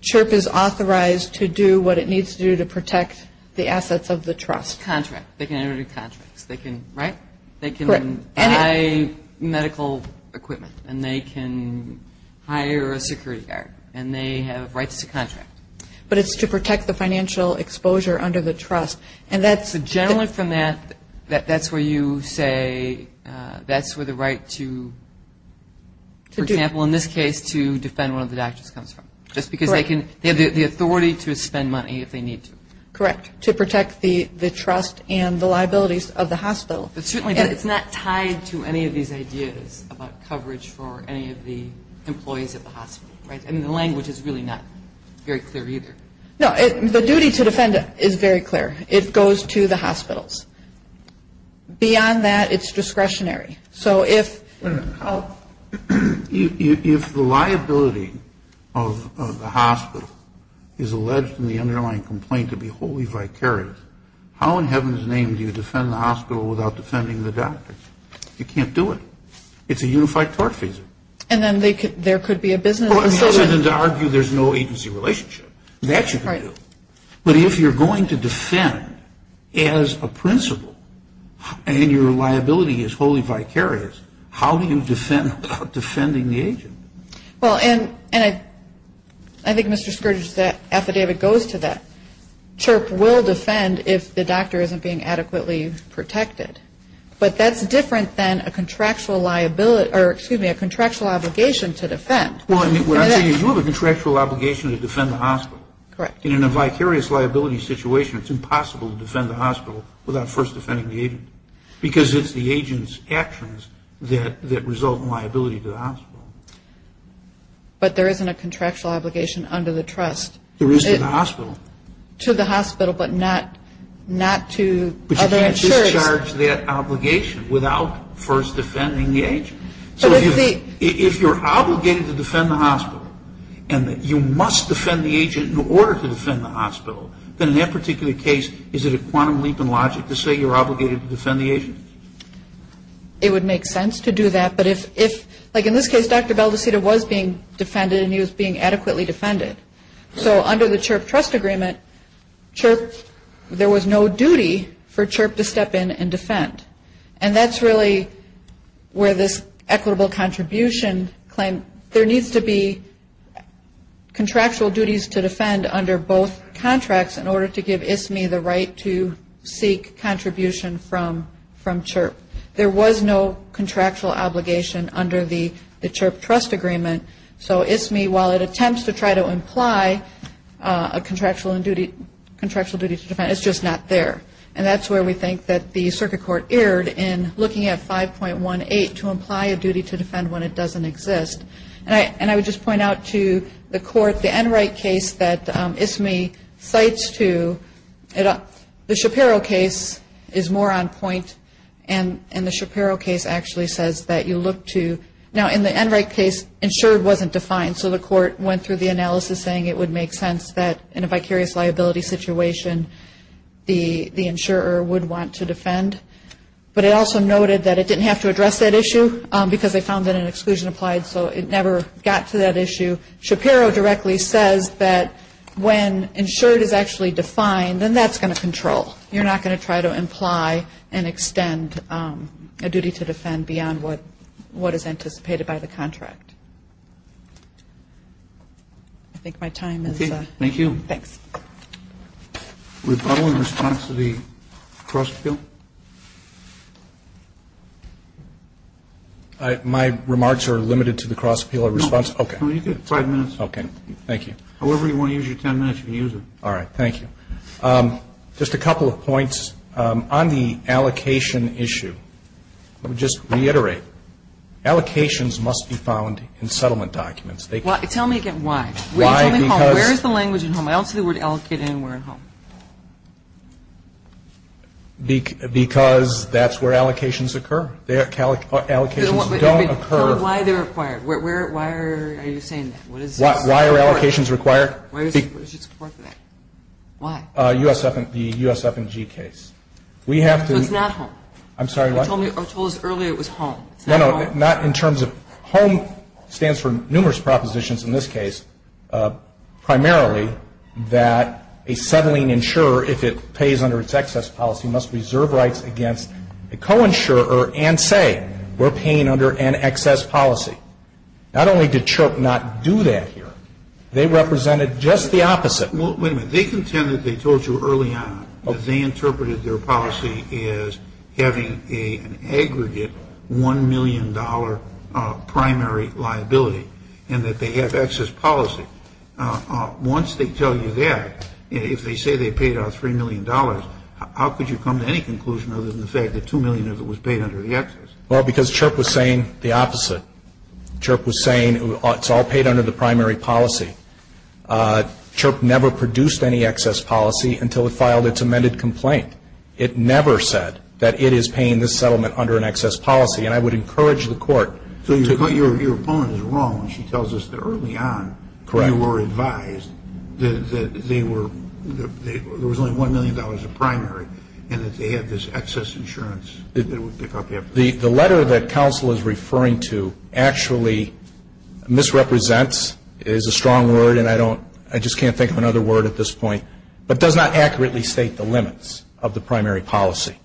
CHIRP is authorized to do what it needs to do to protect the assets of the trust. Contract. They can enter into contracts. They can, right? They can buy medical equipment and they can hire a security guard and they have rights to contract. But it's to protect the financial exposure under the trust. So generally from that, that's where you say that's where the right to, for example, in this case, to defend one of the doctors comes from. Just because they have the authority to spend money if they need to. Correct. To protect the trust and the liabilities of the hospital. But certainly it's not tied to any of these ideas about coverage for any of the employees at the hospital, right? And the language is really not very clear either. No, the duty to defend is very clear. It goes to the hospitals. Beyond that, it's discretionary. So if the liability of the hospital is alleged in the underlying complaint to be wholly vicarious, how in heaven's name do you defend the hospital without defending the doctors? You can't do it. It's a unified tort fee. And then there could be a business decision. Well, other than to argue there's no agency relationship. That you can do. But if you're going to defend as a principal and your liability is wholly vicarious, how do you defend without defending the agent? Well, and I think, Mr. Scourge, that affidavit goes to that. CHRP will defend if the doctor isn't being adequately protected. But that's different than a contractual obligation to defend. Well, what I'm saying is you have a contractual obligation to defend the hospital. Correct. And in a vicarious liability situation, it's impossible to defend the hospital without first defending the agent. Because it's the agent's actions that result in liability to the hospital. But there isn't a contractual obligation under the trust. There is to the hospital. To the hospital, but not to other insurers. You can't discharge that obligation without first defending the agent. So if you're obligated to defend the hospital, and you must defend the agent in order to defend the hospital, then in that particular case, is it a quantum leap in logic to say you're obligated to defend the agent? It would make sense to do that. But if, like in this case, Dr. Baldacita was being defended, and he was being adequately defended. So under the CHIRP trust agreement, there was no duty for CHIRP to step in and defend. And that's really where this equitable contribution claim, there needs to be contractual duties to defend under both contracts in order to give ISMI the right to seek contribution from CHIRP. There was no contractual obligation under the CHIRP trust agreement. So ISMI, while it attempts to try to imply a contractual duty to defend, it's just not there. And that's where we think that the circuit court erred in looking at 5.18 to imply a duty to defend when it doesn't exist. And I would just point out to the court, the Enright case that ISMI cites to, the Shapiro case is more on point, and the Shapiro case actually says that you look to. Now, in the Enright case, insured wasn't defined, so the court went through the analysis saying it would make sense that in a vicarious liability situation, the insurer would want to defend. But it also noted that it didn't have to address that issue, because they found that an exclusion applied, so it never got to that issue. Shapiro directly says that when insured is actually defined, then that's going to control. You're not going to try to imply and extend a duty to defend beyond what is anticipated by the contract. I think my time is up. Okay. Thank you. Thanks. Are we following response to the cross-appeal? My remarks are limited to the cross-appeal response. Okay. You have five minutes. Okay. Thank you. However you want to use your ten minutes, you can use it. All right. Thank you. Just a couple of points. On the allocation issue, let me just reiterate. Allocations must be found in settlement documents. Tell me again why. Why? Where is the language in home? I don't see the word allocate anywhere in home. Because that's where allocations occur. Allocations don't occur. Tell me why they're required. Why are you saying that? Why are allocations required? Why is it required for that? Why? The USF&G case. So it's not home? I'm sorry, what? You told us earlier it was home. It's not home? No, no, not in terms of home. It stands for numerous propositions in this case, primarily that a settling insurer, if it pays under its excess policy, must reserve rights against a co-insurer and say we're paying under an excess policy. Not only did CHRP not do that here. They represented just the opposite. Well, wait a minute. They contend that they told you early on that they interpreted their policy as having an aggregate $1 million primary liability and that they have excess policy. Once they tell you that, if they say they paid out $3 million, how could you come to any conclusion other than the fact that $2 million of it was paid under the excess? Well, because CHRP was saying the opposite. CHRP was saying it's all paid under the primary policy. CHRP never produced any excess policy until it filed its amended complaint. It never said that it is paying this settlement under an excess policy, and I would encourage the court to do that. So your opponent is wrong when she tells us that early on you were advised that they were, there was only $1 million of primary and that they had this excess insurance. The letter that counsel is referring to actually misrepresents is a strong word, and I don't, I just can't think of another word at this point, but does not accurately state the limits of the primary policy.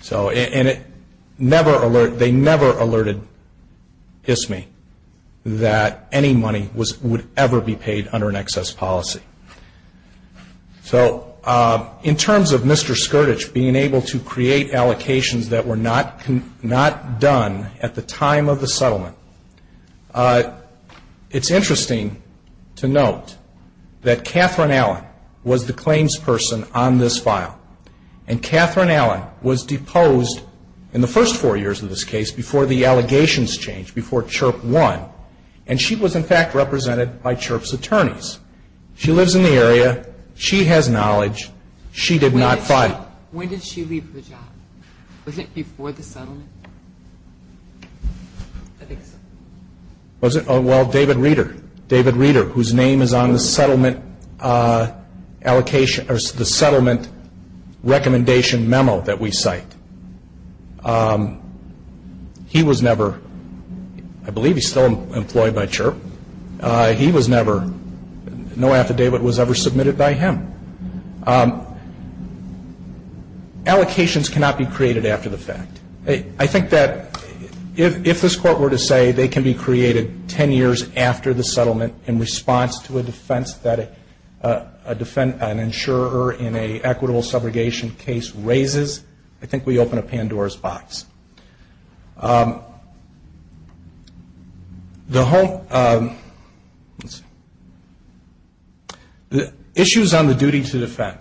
So, and it never alert, they never alerted ISME that any money was, would ever be paid under an excess policy. So in terms of Mr. Skirdage being able to create allocations that were not, not done at the time of the settlement, it's interesting to note that Catherine Allen was the claims person on this file, and Catherine Allen was deposed in the first four years of this case before the allegations changed, before CHRP won, and she was, in fact, represented by CHRP's attorneys. She lives in the area. She has knowledge. She did not fight. When did she leave her job? Was it before the settlement? I think so. Was it, well, David Reeder, David Reeder, whose name is on the settlement allocation, or the settlement recommendation memo that we cite. He was never, I believe he's still employed by CHRP. But he was never, no affidavit was ever submitted by him. Allocations cannot be created after the fact. I think that if this Court were to say they can be created ten years after the settlement in response to a defense that an insurer in an equitable subrogation case raises, I think we open a Pandora's box. The whole issues on the duty to defend,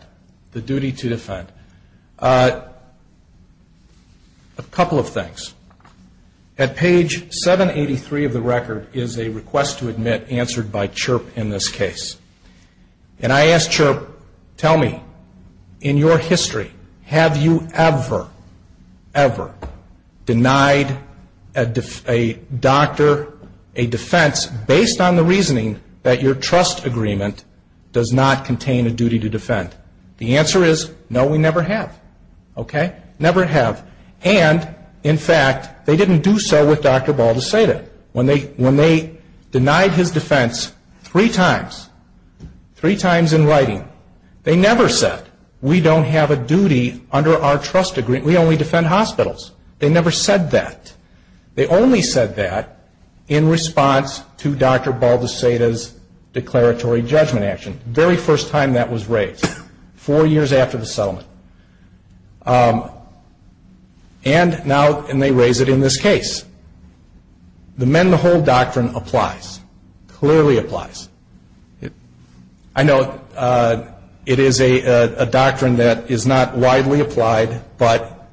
the duty to defend, a couple of things. At page 783 of the record is a request to admit answered by CHRP in this case. And I asked CHRP, tell me, in your history, have you ever, ever, denied a doctor a defense based on the reasoning that your trust agreement does not contain a duty to defend? The answer is, no, we never have. Okay? Never have. And, in fact, they didn't do so with Dr. Ball to say that. When they denied his defense three times, three times in writing, they never said, we don't have a duty under our trust agreement, we only defend hospitals. They never said that. They only said that in response to Dr. Ball de Seda's declaratory judgment action, the very first time that was raised, four years after the settlement. And now they raise it in this case. The mend the hold doctrine applies, clearly applies. I know it is a doctrine that is not widely applied, but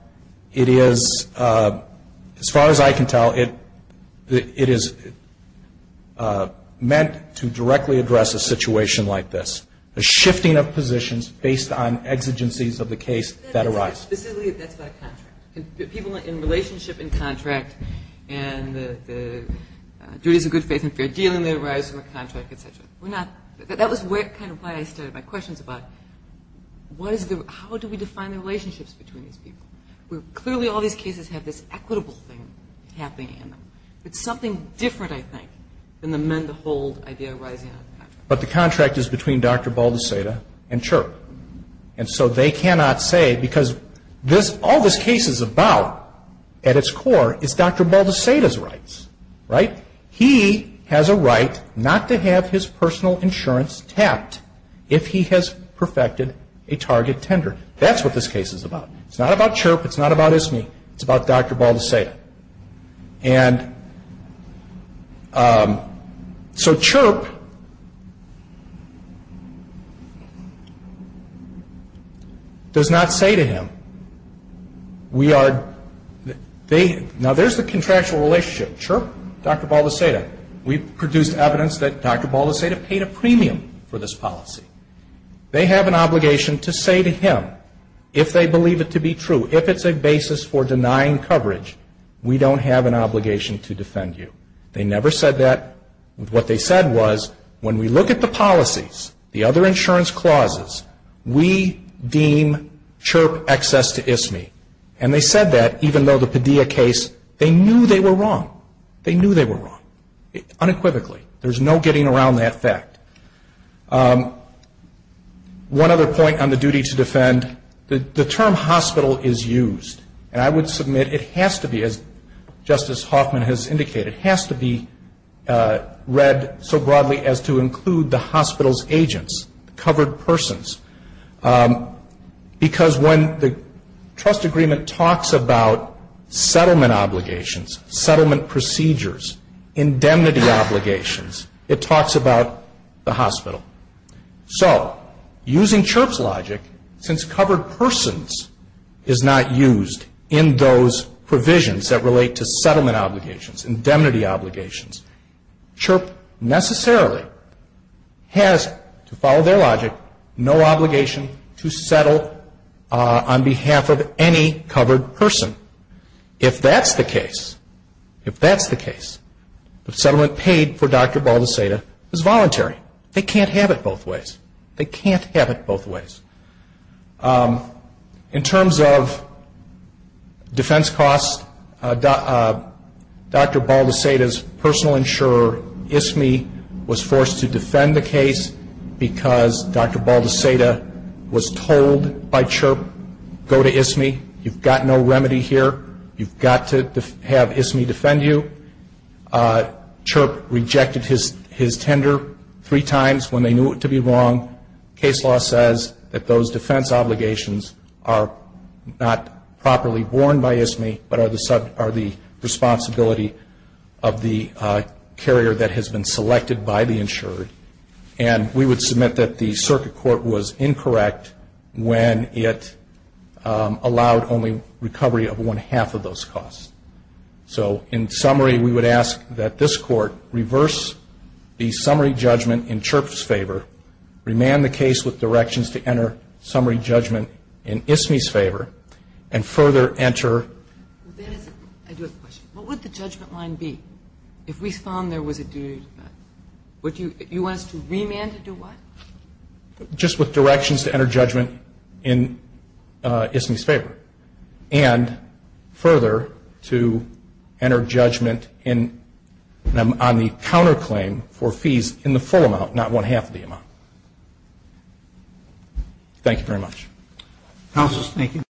it is, as far as I can tell, it is meant to directly address a situation like this, a shifting of positions based on exigencies of the case that arise. Specifically, that's by contract. People in relationship in contract and the duties of good faith and fair deal, depending on their rise in the contract, et cetera. That was kind of why I started my questions about, how do we define the relationships between these people? Clearly all these cases have this equitable thing happening in them. It's something different, I think, than the mend the hold idea arising out of the contract. But the contract is between Dr. Ball de Seda and CHERP. And so they cannot say, because all this case is about, at its core, is Dr. Ball de Seda's rights. Right? He has a right not to have his personal insurance tapped if he has perfected a target tender. That's what this case is about. It's not about CHERP. It's not about ISME. It's about Dr. Ball de Seda. And so CHERP does not say to him, we are, they, now there's the contractual relationship. CHERP, Dr. Ball de Seda. We've produced evidence that Dr. Ball de Seda paid a premium for this policy. They have an obligation to say to him, if they believe it to be true, if it's a basis for denying coverage, we don't have an obligation to defend you. They never said that. What they said was, when we look at the policies, the other insurance clauses, we deem CHERP excess to ISME. And they said that, even though the Padilla case, they knew they were wrong. They knew they were wrong, unequivocally. There's no getting around that fact. One other point on the duty to defend, the term hospital is used. And I would submit it has to be, as Justice Hoffman has indicated, it has to be read so broadly as to include the hospital's agents, covered persons. Because when the trust agreement talks about settlement obligations, settlement procedures, indemnity obligations, it talks about the hospital. So, using CHERP's logic, since covered persons is not used in those provisions that relate to settlement obligations, indemnity obligations, CHERP necessarily has, to follow their logic, no obligation to settle on behalf of any covered person. If that's the case, if that's the case, the settlement paid for Dr. Baldeceda is voluntary. They can't have it both ways. They can't have it both ways. In terms of defense costs, Dr. Baldeceda's personal insurer, ISMI, was forced to defend the case because Dr. Baldeceda was told by CHERP, go to ISMI, you've got no remedy here, you've got to have ISMI defend you. CHERP rejected his tender three times when they knew it to be wrong. Case law says that those defense obligations are not properly borne by ISMI, but are the responsibility of the carrier that has been selected by the insurer. And we would submit that the circuit court was incorrect when it allowed only recovery of one half of those costs. So, in summary, we would ask that this court reverse the summary judgment in CHERP's favor, remand the case with directions to enter summary judgment in ISMI's favor, and further enter. I do have a question. What would the judgment line be if we found there was a duty to defense? Would you want us to remand to do what? Just with directions to enter judgment in ISMI's favor, and further to enter judgment on the counterclaim for fees in the full amount, not one half of the amount. Thank you very much. Counsel, thank you.